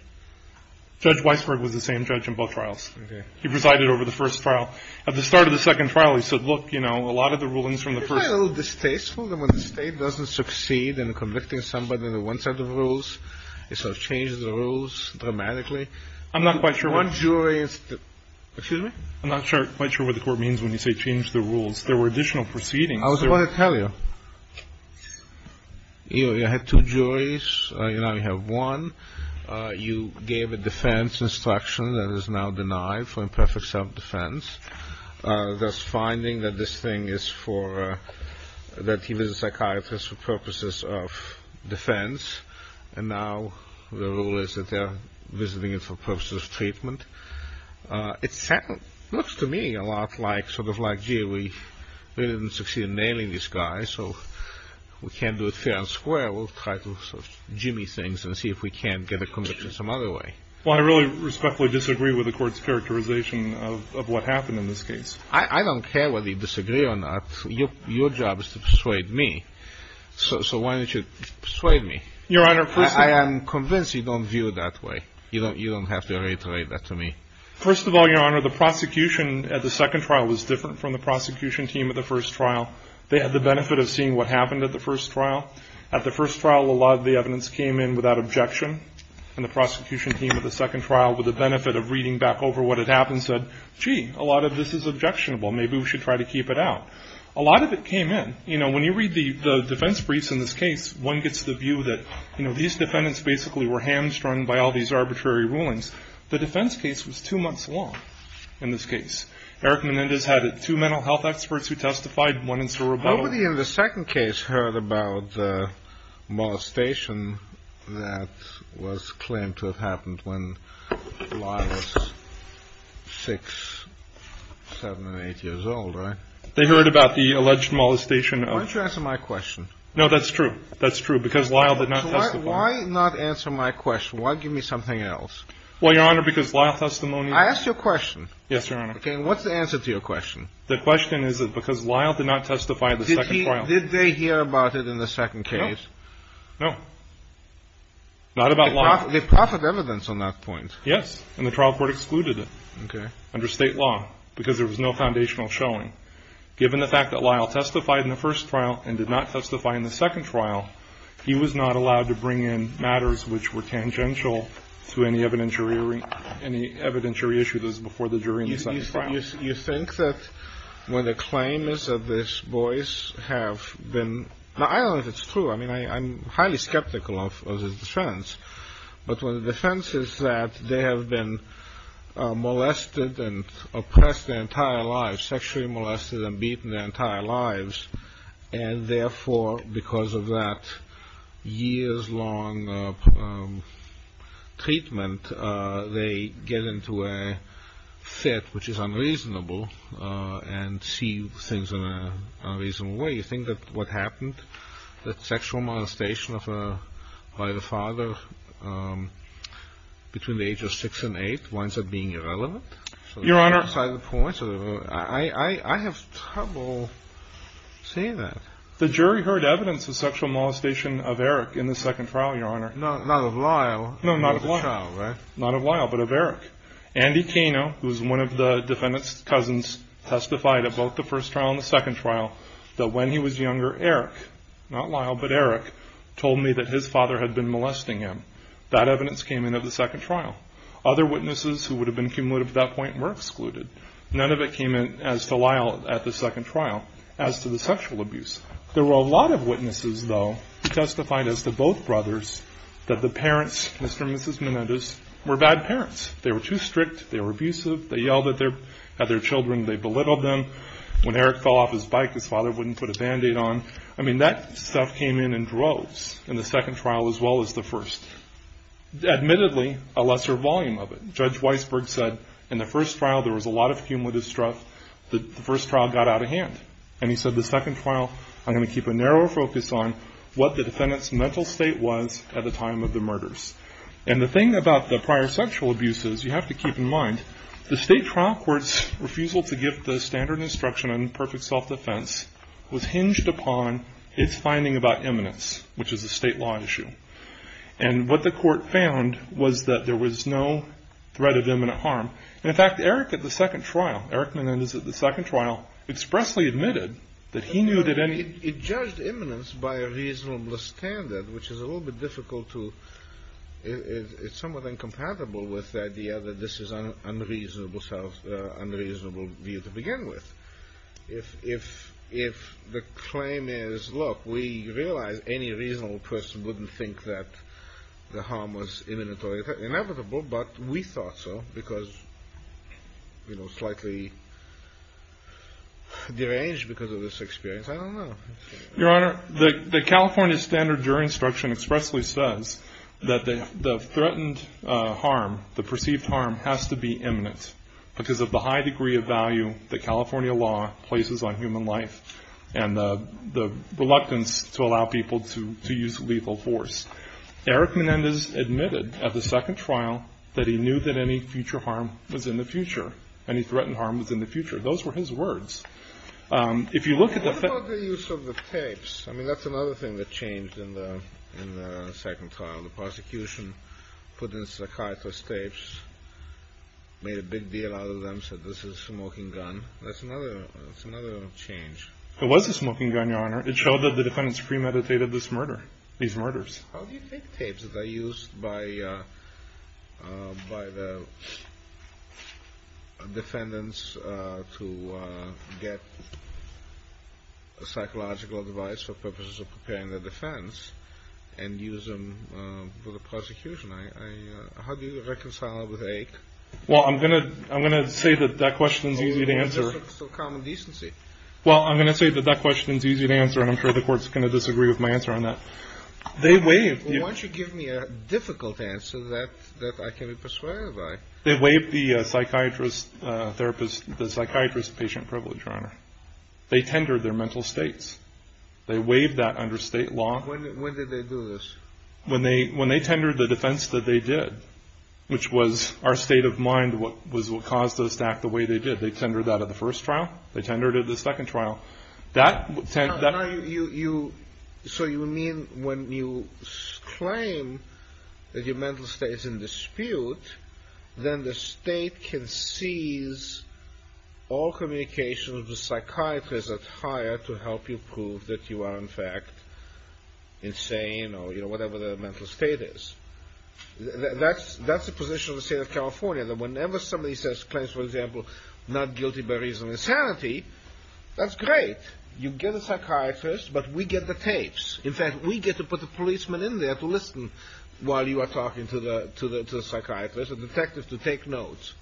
Judge Weisberg was the same judge in both trials. He presided over the first trial. At the start of the second trial, he said, look, you know, a lot of the rulings from the first trial. Isn't that a little distasteful that when the state doesn't succeed in convicting somebody on one set of rules, it sort of changes the rules dramatically? I'm not quite sure what the court means when you say change the rules. There were additional proceedings. I was about to tell you. You had two juries. Now you have one. You gave a defense instruction that is now denied for imperfect self-defense, thus finding that this thing is for, that he was a psychiatrist for purposes of defense, and now the rule is that they're visiting him for purposes of treatment. It looks to me a lot like, sort of like, gee, we didn't succeed in nailing this guy, so we can't do it fair and square. We'll try to sort of jimmy things and see if we can't get a conviction some other way. Well, I really respectfully disagree with the court's characterization of what happened in this case. I don't care whether you disagree or not. Your job is to persuade me, so why don't you persuade me? Your Honor, first of all — I am convinced you don't view it that way. You don't have to reiterate that to me. First of all, Your Honor, the prosecution at the second trial was different from the prosecution team at the first trial. They had the benefit of seeing what happened at the first trial. At the first trial, a lot of the evidence came in without objection, and the prosecution team at the second trial, with the benefit of reading back over what had happened, said, gee, a lot of this is objectionable. Maybe we should try to keep it out. A lot of it came in. You know, when you read the defense briefs in this case, one gets the view that, you know, these defendants basically were hamstrung by all these arbitrary rulings. The defense case was two months long in this case. Eric Menendez had two mental health experts who testified, one in Cerebro. Nobody in the second case heard about the molestation that was claimed to have happened when Lyle was 6, 7, and 8 years old, right? They heard about the alleged molestation of — Why don't you answer my question? No, that's true. That's true, because Lyle did not testify. Why not answer my question? Why give me something else? Well, Your Honor, because Lyle's testimony — I asked you a question. Yes, Your Honor. Okay, and what's the answer to your question? The question is that because Lyle did not testify in the second trial — Did he — did they hear about it in the second case? No. No. Not about Lyle. They proffered evidence on that point. Yes, and the trial court excluded it. Okay. Under State law, because there was no foundational showing. Given the fact that Lyle testified in the first trial and did not testify in the second trial, he was not allowed to bring in matters which were tangential to any evidentiary issue that was before the jury in the second trial. You think that when the claim is that these boys have been — Now, I don't know if it's true. I mean, I'm highly skeptical of his defense. But the defense is that they have been molested and oppressed their entire lives, sexually molested and beaten their entire lives, and therefore, because of that years-long treatment, they get into a fit which is unreasonable and see things in an unreasonable way. You think that what happened, that sexual molestation by the father between the age of 6 and 8, winds up being irrelevant? Your Honor — I have trouble seeing that. The jury heard evidence of sexual molestation of Eric in the second trial, Your Honor. Not of Lyle. No, not of Lyle. Not of Lyle, but of Eric. Andy Kano, who was one of the defendant's cousins, testified at both the first trial and the second trial that when he was younger, Eric, not Lyle, but Eric, told me that his father had been molesting him. That evidence came in at the second trial. Other witnesses who would have been cumulative at that point were excluded. None of it came in as to Lyle at the second trial as to the sexual abuse. There were a lot of witnesses, though, who testified as to both brothers that the parents, Mr. and Mrs. Menendez, were bad parents. They were too strict. They were abusive. They yelled at their children. They belittled them. When Eric fell off his bike, his father wouldn't put a Band-Aid on. I mean, that stuff came in in droves in the second trial as well as the first. Admittedly, a lesser volume of it. Judge Weisberg said in the first trial there was a lot of cumulative stuff. The first trial got out of hand. He said the second trial, I'm going to keep a narrower focus on what the defendant's mental state was at the time of the murders. The thing about the prior sexual abuse is you have to keep in mind the state trial court's refusal to give the standard instruction on perfect self-defense was hinged upon its finding about imminence, which is a state law issue. What the court found was that there was no threat of imminent harm. In fact, Eric at the second trial, Eric Menendez at the second trial, expressly admitted that he knew that any – It judged imminence by a reasonable standard, which is a little bit difficult to – it's somewhat incompatible with the idea that this is unreasonable view to begin with. If the claim is, look, we realize any reasonable person wouldn't think that the harm was imminent or inevitable, but we thought so because, you know, slightly deranged because of this experience. I don't know. Your Honor, the California standard jury instruction expressly says that the threatened harm, the perceived harm has to be imminent because of the high degree of value that California law places on human life and the reluctance to allow people to use lethal force. Eric Menendez admitted at the second trial that he knew that any future harm was in the future, any threatened harm was in the future. Those were his words. If you look at the – What about the use of the tapes? I mean, that's another thing that changed in the second trial. The prosecution put in psychiatrist tapes, made a big deal out of them, said this is a smoking gun. That's another change. It was a smoking gun, Your Honor. It showed that the defendants premeditated this murder, these murders. How do you take tapes that are used by the defendants to get psychological advice for purposes of preparing the defense and use them for the prosecution? How do you reconcile it with AIC? Well, I'm going to say that that question is easy to answer. So common decency. Well, I'm going to say that that question is easy to answer, and I'm sure the Court's going to disagree with my answer on that. They waived the – Well, why don't you give me a difficult answer that I can be persuaded by? They waived the psychiatrist therapist – the psychiatrist patient privilege, Your Honor. They tendered their mental states. They waived that under State law. When did they do this? When they tendered the defense that they did, which was our state of mind was what caused us to act the way they did. They tendered that at the first trial. They tendered it at the second trial. That – So you mean when you claim that your mental state is in dispute, then the state can seize all communication with the psychiatrist at higher to help you prove that you are in fact insane or whatever the mental state is. That's the position of the state of California, that whenever somebody says – claims, for example, not guilty by reason of insanity, that's great. You get a psychiatrist, but we get the tapes. In fact, we get to put the policeman in there to listen while you are talking to the psychiatrist, a detective to take notes.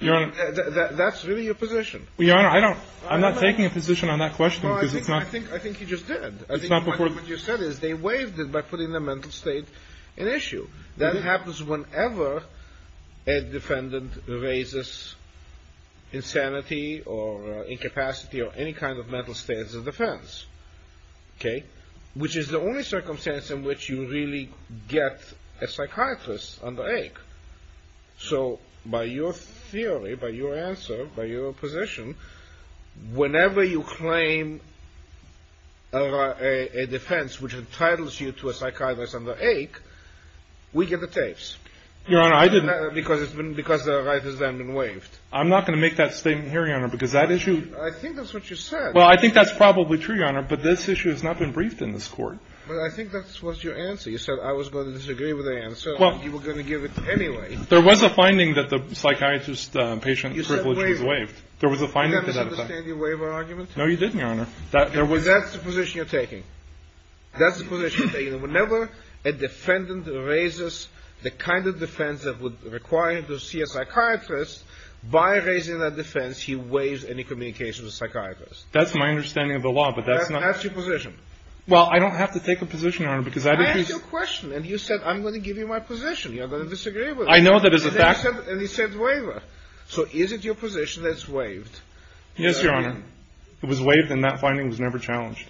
Your Honor – That's really your position. Well, Your Honor, I don't – I'm not taking a position on that question because it's not – No, I think you just did. It's not before – I think what you said is they waived it by putting the mental state in issue. That happens whenever a defendant raises insanity or incapacity or any kind of mental state as a defense. Okay? Which is the only circumstance in which you really get a psychiatrist under ache. So by your theory, by your answer, by your position, whenever you claim a defense which entitles you to a psychiatrist under ache, we get the tapes. Your Honor, I didn't – Because the right has then been waived. I'm not going to make that statement here, Your Honor, because that issue – I think that's what you said. Well, I think that's probably true, Your Honor, but this issue has not been briefed in this court. Well, I think that was your answer. You said I was going to disagree with the answer. Well – You were going to give it anyway. There was a finding that the psychiatrist patient privilege was waived. There was a finding that – Did I misunderstand your waiver argument? No, you didn't, Your Honor. Because that's the position you're taking. That's the position. Whenever a defendant raises the kind of defense that would require him to see a psychiatrist, by raising that defense, he waives any communication with a psychiatrist. That's my understanding of the law, but that's not – That's your position. Well, I don't have to take a position, Your Honor, because I didn't – I asked you a question, and you said I'm going to give you my position. You're going to disagree with it. I know that is a fact. And you said waiver. So is it your position that it's waived? Yes, Your Honor. It was waived, and that finding was never challenged.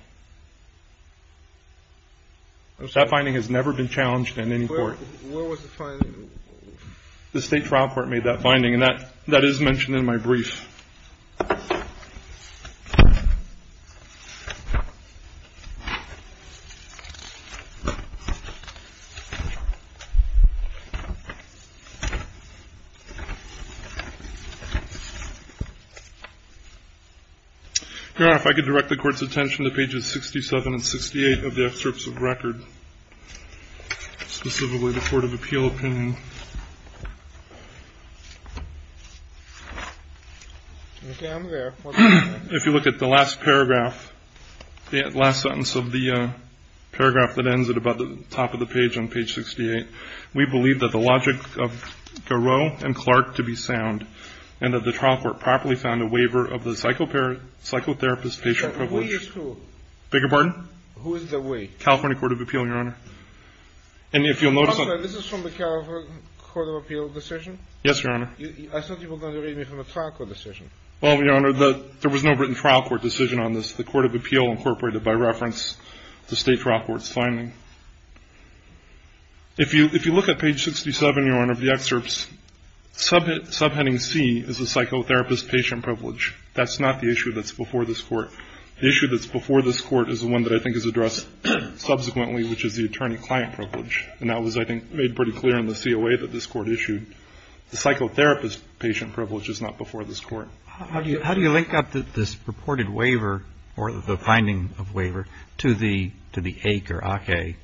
That finding has never been challenged in any court. Where was the finding? The State Trial Court made that finding, and that is mentioned in my brief. Your Honor, if I could direct the Court's attention to pages 67 and 68 of the excerpts of record, specifically the Court of Appeal opinion. Okay. I'm there. If you look at the last paragraph, the last sentence of the paragraph that ends at about the top of the page on page 68, we believe that the logic of Garot and Clark to be sound, and that the trial court properly found a waiver of the psychotherapist's patient privilege. Who is who? Beg your pardon? Who is the we? California Court of Appeal, Your Honor. And if you'll notice – I'm sorry. This is from the California Court of Appeal decision? Yes, Your Honor. I thought you were going to read me from the trial court decision. Well, Your Honor, there was no written trial court decision on this. The Court of Appeal incorporated by reference the State Trial Court's finding. If you look at page 67, Your Honor, of the excerpts, subheading C is the psychotherapist's patient privilege. That's not the issue that's before this Court. The issue that's before this Court is the one that I think is addressed subsequently, which is the attorney-client privilege. And that was, I think, made pretty clear in the COA that this Court issued. The psychotherapist's patient privilege is not before this Court. How do you link up this purported waiver or the finding of waiver to the AIC or ACAE?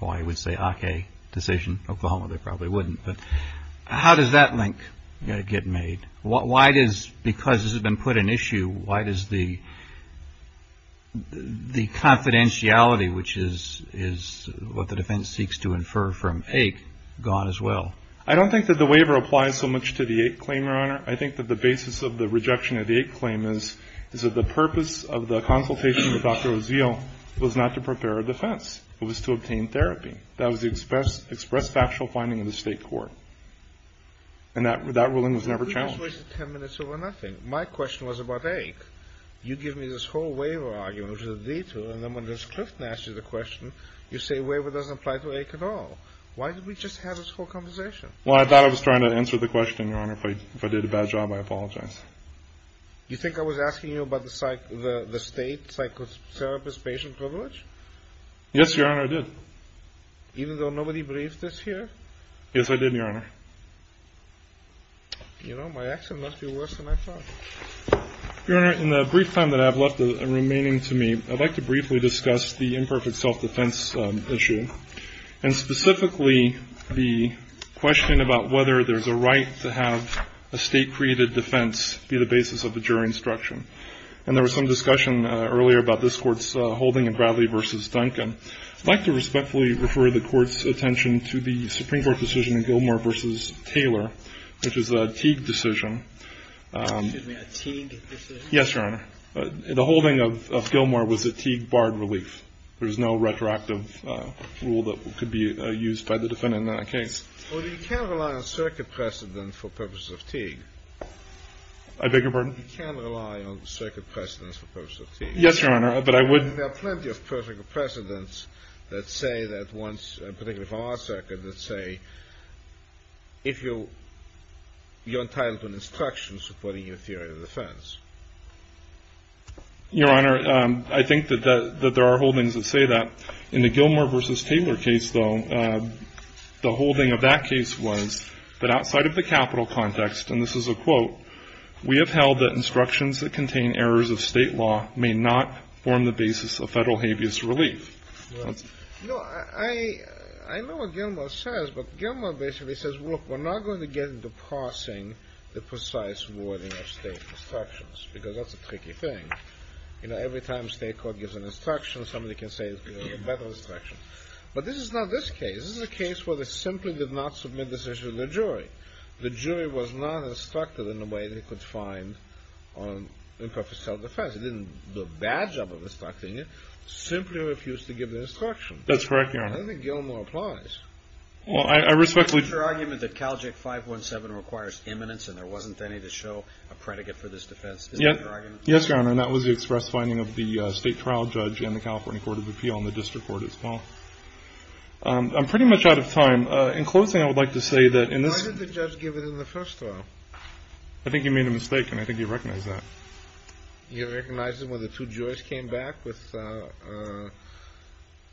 Well, I would say ACAE decision. Oklahoma, they probably wouldn't. But how does that link get made? Why does – because this has been put in issue, why does the confidentiality, which is what the defense seeks to infer from AIC, go on as well? I don't think that the waiver applies so much to the AIC claim, Your Honor. I think that the basis of the rejection of the AIC claim is that the purpose of the consultation with Dr. Ozeel was not to prepare a defense. It was to obtain therapy. That was the expressed factual finding of the State Court. And that ruling was never challenged. We just wasted 10 minutes over nothing. My question was about AIC. You give me this whole waiver argument, which is a detour, and then when Ms. Clifton asks you the question, you say waiver doesn't apply to AIC at all. Why did we just have this whole conversation? Well, I thought I was trying to answer the question, Your Honor. If I did a bad job, I apologize. You think I was asking you about the State psychotherapist patient privilege? Yes, Your Honor, I did. Even though nobody briefed us here? Yes, I did, Your Honor. You know, my accent must be worse than I thought. Your Honor, in the brief time that I have left remaining to me, I'd like to briefly discuss the imperfect self-defense issue, and specifically the question about whether there's a right to have a State-created defense be the basis of a jury instruction. And there was some discussion earlier about this Court's holding in Bradley v. Duncan. I'd like to respectfully refer the Court's attention to the Supreme Court decision in Gilmore v. Taylor, which is a Teague decision. Excuse me, a Teague decision? Yes, Your Honor. The holding of Gilmore was a Teague barred relief. There's no retroactive rule that could be used by the defendant in that case. Well, you can't rely on circuit precedent for purposes of Teague. I beg your pardon? You can't rely on circuit precedents for purposes of Teague. Yes, Your Honor, but I would. There are plenty of perfect precedents that say that once, particularly from our circuit, that say if you're entitled to an instruction supporting your theory of defense. Your Honor, I think that there are holdings that say that. In the Gilmore v. Taylor case, though, the holding of that case was that outside of the capital context, and this is a quote, we have held that instructions that contain errors of State law may not form the basis of Federal habeas relief. No, I know what Gilmore says, but Gilmore basically says, look, we're not going to get into parsing the precise wording of State instructions because that's a tricky thing. You know, every time State court gives an instruction, somebody can say it's a better instruction. But this is not this case. This is a case where they simply did not submit this issue to the jury. The jury was not instructed in a way they could find on imperfect self-defense. They didn't do a bad job of instructing it. Simply refused to give the instruction. That's correct, Your Honor. I don't think Gilmore applies. Well, I respectfully. Your argument that CalJIC 517 requires imminence and there wasn't any to show a predicate for this defense. Is that your argument? Yes, Your Honor, and that was the express finding of the State trial judge and the California Court of Appeal and the district court as well. I'm pretty much out of time. In closing, I would like to say that in this. Why did the judge give it in the first trial? I think he made a mistake, and I think he recognized that. You recognized it when the two jurors came back with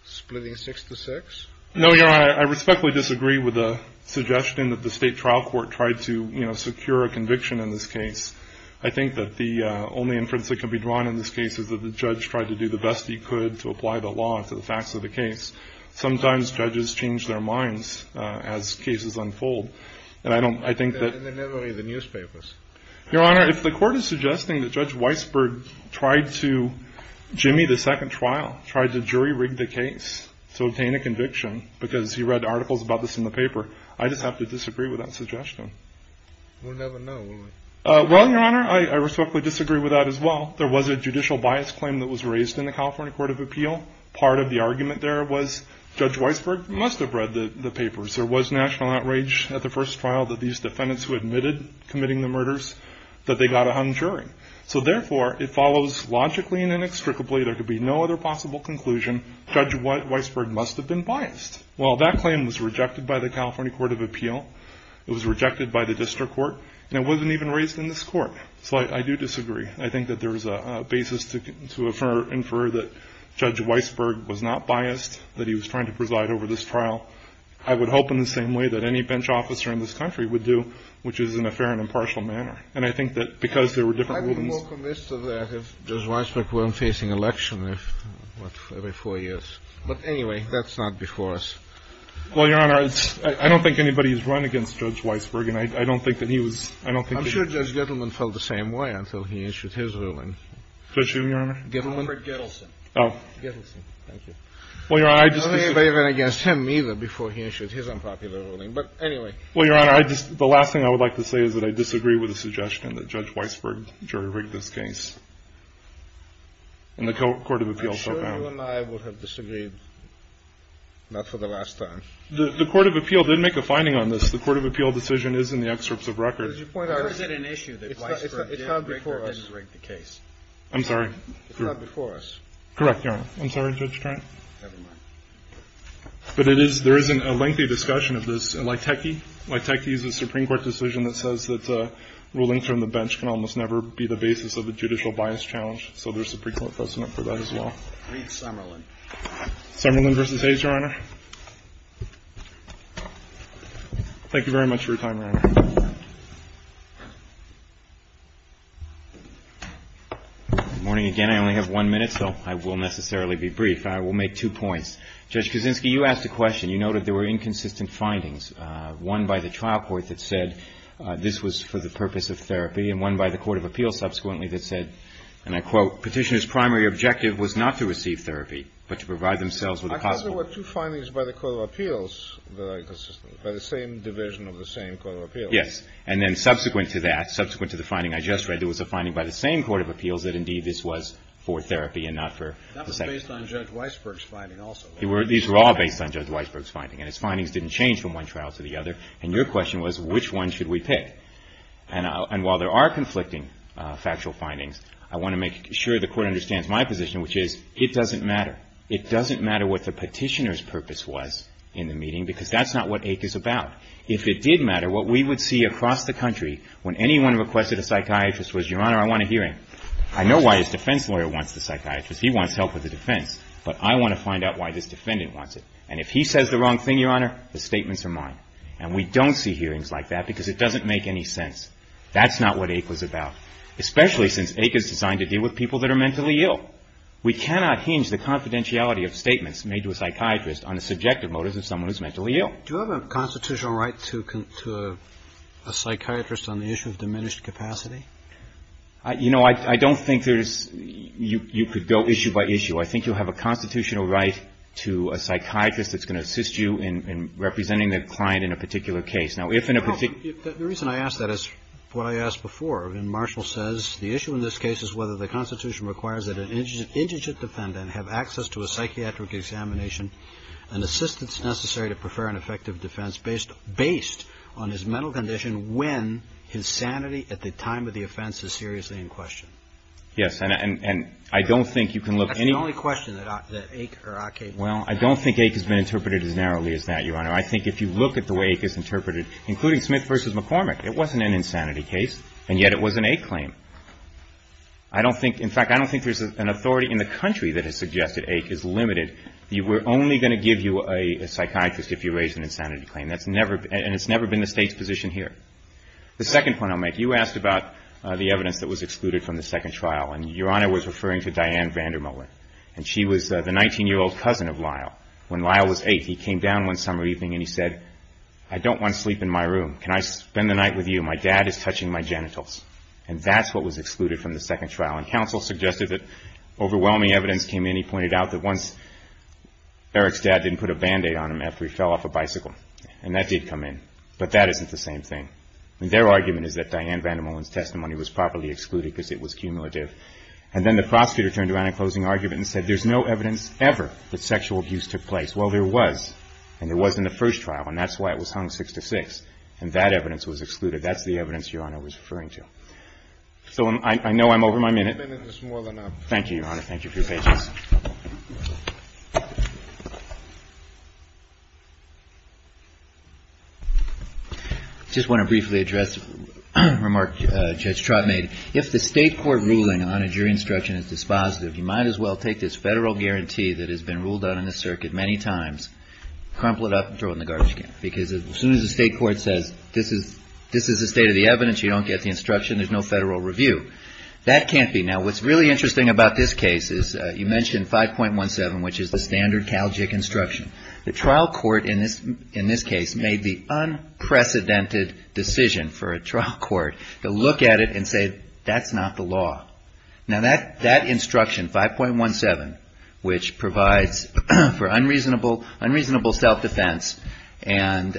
splitting six to six? No, Your Honor. I respectfully disagree with the suggestion that the State trial court tried to, you know, secure a conviction in this case. I think that the only inference that can be drawn in this case is that the judge tried to do the best he could to apply the law to the facts of the case. Sometimes judges change their minds as cases unfold, and I don't. I think that. They never read the newspapers. Your Honor, if the court is suggesting that Judge Weisberg tried to jimmy the second trial, tried to jury-rig the case to obtain a conviction because he read articles about this in the paper, I just have to disagree with that suggestion. We'll never know, will we? Well, Your Honor, I respectfully disagree with that as well. There was a judicial bias claim that was raised in the California Court of Appeal. Part of the argument there was Judge Weisberg must have read the papers. There was national outrage at the first trial that these defendants who admitted committing the murders, that they got a hung jury. So, therefore, it follows logically and inextricably there could be no other possible conclusion. Judge Weisberg must have been biased. Well, that claim was rejected by the California Court of Appeal. It was rejected by the district court. And it wasn't even raised in this court. So I do disagree. I think that there is a basis to infer that Judge Weisberg was not biased, that he was trying to preside over this trial. I would hope in the same way that any bench officer in this country would do, which is in a fair and impartial manner. And I think that because there were different rulings. I'm more convinced of that if Judge Weisberg weren't facing election every four years. But, anyway, that's not before us. Well, Your Honor, I don't think anybody has run against Judge Weisberg, and I don't think that he was – I don't think that he was – I'm sure Judge Gettleman felt the same way until he issued his ruling. Judge Gettleman? Alfred Gettleson. Oh. Gettleson, thank you. Well, Your Honor, I just – I don't think anybody ran against him either before he issued his unpopular ruling. But, anyway – Well, Your Honor, I just – the last thing I would like to say is that I disagree with the suggestion that Judge Weisberg jury-rigged this case in the Court of Appeals. I'm sure you and I would have disagreed, not for the last time. The Court of Appeals did make a finding on this. The Court of Appeals decision is in the excerpts of record. But is it an issue that Weisberg jury-rigged the case? I'm sorry? It's not before us. Correct, Your Honor. I'm sorry, Judge Trent. Never mind. But it is – there is a lengthy discussion of this. Laiteke? Laiteke is a Supreme Court decision that says that a ruling from the bench can almost never be the basis of a judicial bias challenge. So there's a pre-court precedent for that as well. Reed Summerlin. Summerlin v. Hayes, Your Honor. Thank you very much for your time, Your Honor. Good morning again. I only have one minute, so I will necessarily be brief. I will make two points. Judge Kuczynski, you asked a question. You noted there were inconsistent findings, one by the trial court that said this was for the purpose of therapy, and one by the Court of Appeals subsequently that said, and I quote, Petitioner's primary objective was not to receive therapy, but to provide themselves with a possible – I thought there were two findings by the Court of Appeals that are inconsistent, by the same division of the same Court of Appeals. Yes. And then subsequent to that, subsequent to the finding I just read, there was a finding by the same Court of Appeals that, indeed, this was for therapy and not for – That was based on Judge Weisberg's finding also. These were all based on Judge Weisberg's finding. And his findings didn't change from one trial to the other. And your question was, which one should we pick? And while there are conflicting factual findings, I want to make sure the Court understands my position, which is, it doesn't matter. It doesn't matter what the petitioner's purpose was in the meeting, because that's not what AIC is about. If it did matter, what we would see across the country when anyone requested a psychiatrist was, Your Honor, I want a hearing. I know why his defense lawyer wants the psychiatrist. He wants help with the defense. But I want to find out why this defendant wants it. And if he says the wrong thing, Your Honor, the statements are mine. And we don't see hearings like that because it doesn't make any sense. That's not what AIC was about, especially since AIC is designed to deal with people that are mentally ill. We cannot hinge the confidentiality of statements made to a psychiatrist on the subjective motives of someone who's mentally ill. Do you have a constitutional right to a psychiatrist on the issue of diminished capacity? You know, I don't think there's – you could go issue by issue. I think you have a constitutional right to a psychiatrist that's going to assist you in representing the client in a particular case. Now, if in a particular – The reason I ask that is what I asked before. And Marshall says the issue in this case is whether the Constitution requires that an indigent defendant have access to a psychiatric examination and assistance necessary to prefer an effective defense based on his mental condition when his sanity at the time of the offense is seriously in question. Yes. And I don't think you can look any – That's the only question that AIC or ACAE – Well, I don't think AIC has been interpreted as narrowly as that, Your Honor. I think if you look at the way AIC is interpreted, including Smith v. McCormick, it wasn't an insanity case, and yet it was an AIC claim. I don't think – in fact, I don't think there's an authority in the country that has suggested AIC is limited. We're only going to give you a psychiatrist if you raise an insanity claim. That's never – and it's never been the State's position here. The second point I'll make, you asked about the evidence that was excluded from the trial. Your Honor was referring to Diane Vandermolen, and she was the 19-year-old cousin of Lyle. When Lyle was 8, he came down one summer evening and he said, I don't want to sleep in my room. Can I spend the night with you? My dad is touching my genitals. And that's what was excluded from the second trial. And counsel suggested that overwhelming evidence came in. He pointed out that once Eric's dad didn't put a Band-Aid on him after he fell off a bicycle. And that did come in. But that isn't the same thing. I mean, their argument is that Diane Vandermolen's testimony was properly excluded because it was cumulative. And then the prosecutor turned around in a closing argument and said, there's no evidence ever that sexual abuse took place. Well, there was. And there was in the first trial. And that's why it was hung 6-6. And that evidence was excluded. That's the evidence Your Honor was referring to. So I know I'm over my minute. Your minute is more than up. Thank you, Your Honor. Thank you for your patience. I just want to briefly address a remark Judge Trott made. If the state court ruling on a jury instruction is dispositive, you might as well take this federal guarantee that has been ruled out in the circuit many times, crumple it up, and throw it in the garbage can. Because as soon as the state court says this is the state of the evidence, you don't get the instruction, there's no federal review. That can't be. The trial court in this case made the unprecedented decision for a trial court to look at it and say, that's not the law. Now that instruction, 5.17, which provides for unreasonable self-defense and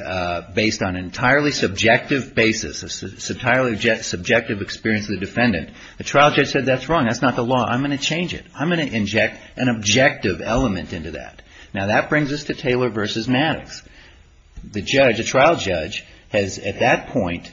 based on entirely subjective basis, entirely subjective experience of the defendant, the trial judge said that's wrong, that's not the law, I'm going to change it. I'm going to inject an objective element into that. Now that brings us to Taylor v. Maddox. The judge, the trial judge, has at that point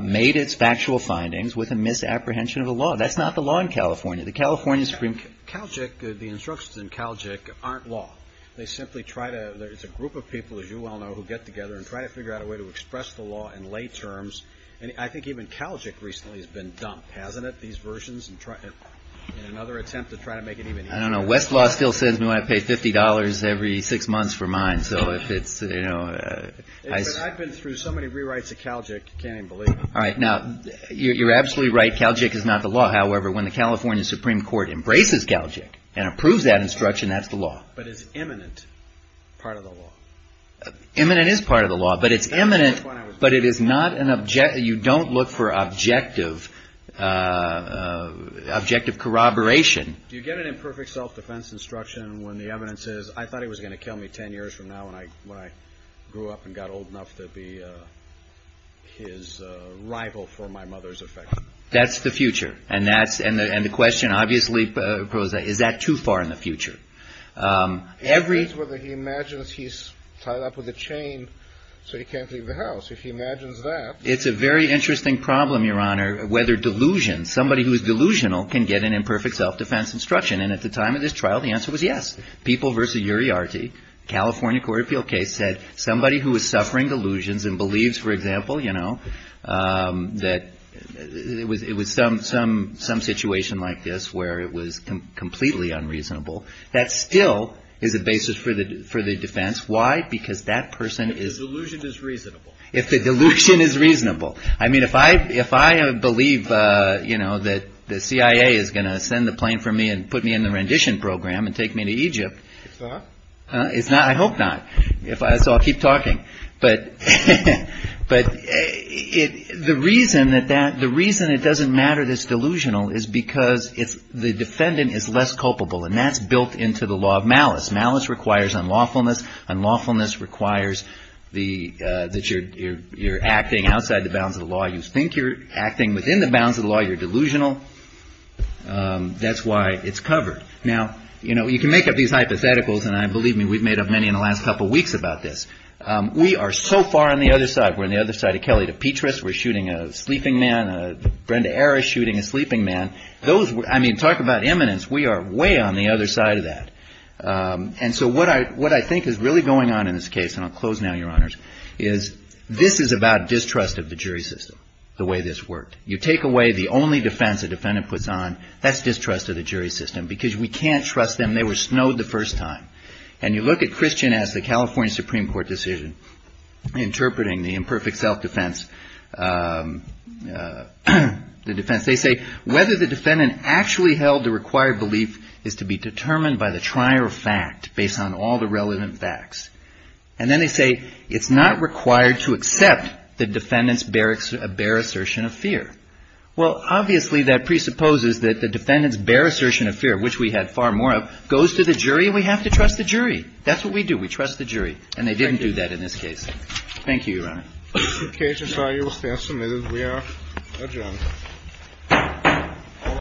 made its factual findings with a misapprehension of the law. That's not the law in California. The California Supreme Court. Calgic, the instructions in Calgic aren't law. They simply try to, there's a group of people, as you well know, who get together and try to figure out a way to express the law in lay terms. And I think even Calgic recently has been dumped, hasn't it, these versions? In another attempt to try to make it even easier. I don't know. Westlaw still says we want to pay $50 every six months for mine. So if it's, you know. I've been through so many rewrites of Calgic, you can't even believe it. All right. Now, you're absolutely right. Calgic is not the law. However, when the California Supreme Court embraces Calgic and approves that instruction, that's the law. But it's eminent part of the law. Eminent is part of the law. But it's eminent. But it is not an, you don't look for objective, objective corroboration. Do you get an imperfect self-defense instruction when the evidence is, I thought he was going to kill me 10 years from now when I grew up and got old enough to be his rival for my mother's affection? That's the future. And that's, and the question, obviously, is that too far in the future? It depends whether he imagines he's tied up with a chain so he can't leave the house. If he imagines that. It's a very interesting problem, Your Honor, whether delusions, somebody who is delusional can get an imperfect self-defense instruction. And at the time of this trial, the answer was yes. People v. Uriarty, California court appeal case said somebody who is suffering delusions and believes, for example, you know, that it was some situation like this where it was completely unreasonable. That still is a basis for the defense. Why? Because that person is. If the delusion is reasonable. If the delusion is reasonable. I mean, if I believe, you know, that the CIA is going to send the plane for me and put me in the rendition program and take me to Egypt. It's not? It's not. I hope not. So I'll keep talking. But the reason it doesn't matter that it's delusional is because the defendant is less culpable. And that's built into the law of malice. Malice requires unlawfulness. Unlawfulness requires that you're acting outside the bounds of the law. You think you're acting within the bounds of the law. You're delusional. That's why it's covered. Now, you know, you can make up these hypotheticals. And believe me, we've made up many in the last couple of weeks about this. We are so far on the other side. We're on the other side of Kelly to Petrus. We're shooting a sleeping man. Brenda Harris shooting a sleeping man. I mean, talk about imminence. We are way on the other side of that. And so what I think is really going on in this case, and I'll close now, Your Honors, is this is about distrust of the jury system, the way this worked. You take away the only defense a defendant puts on. That's distrust of the jury system because we can't trust them. They were snowed the first time. And you look at Christian as the California Supreme Court decision interpreting the imperfect self-defense, the defense. They say whether the defendant actually held the required belief is to be determined by the trier of fact based on all the relevant facts. And then they say it's not required to accept the defendant's bare assertion of fear. Well, obviously, that presupposes that the defendant's bare assertion of fear, which we had far more of, goes to the jury. We have to trust the jury. That's what we do. We trust the jury. And they didn't do that in this case. Thank you, Your Honor. The case is now submitted. We are adjourned.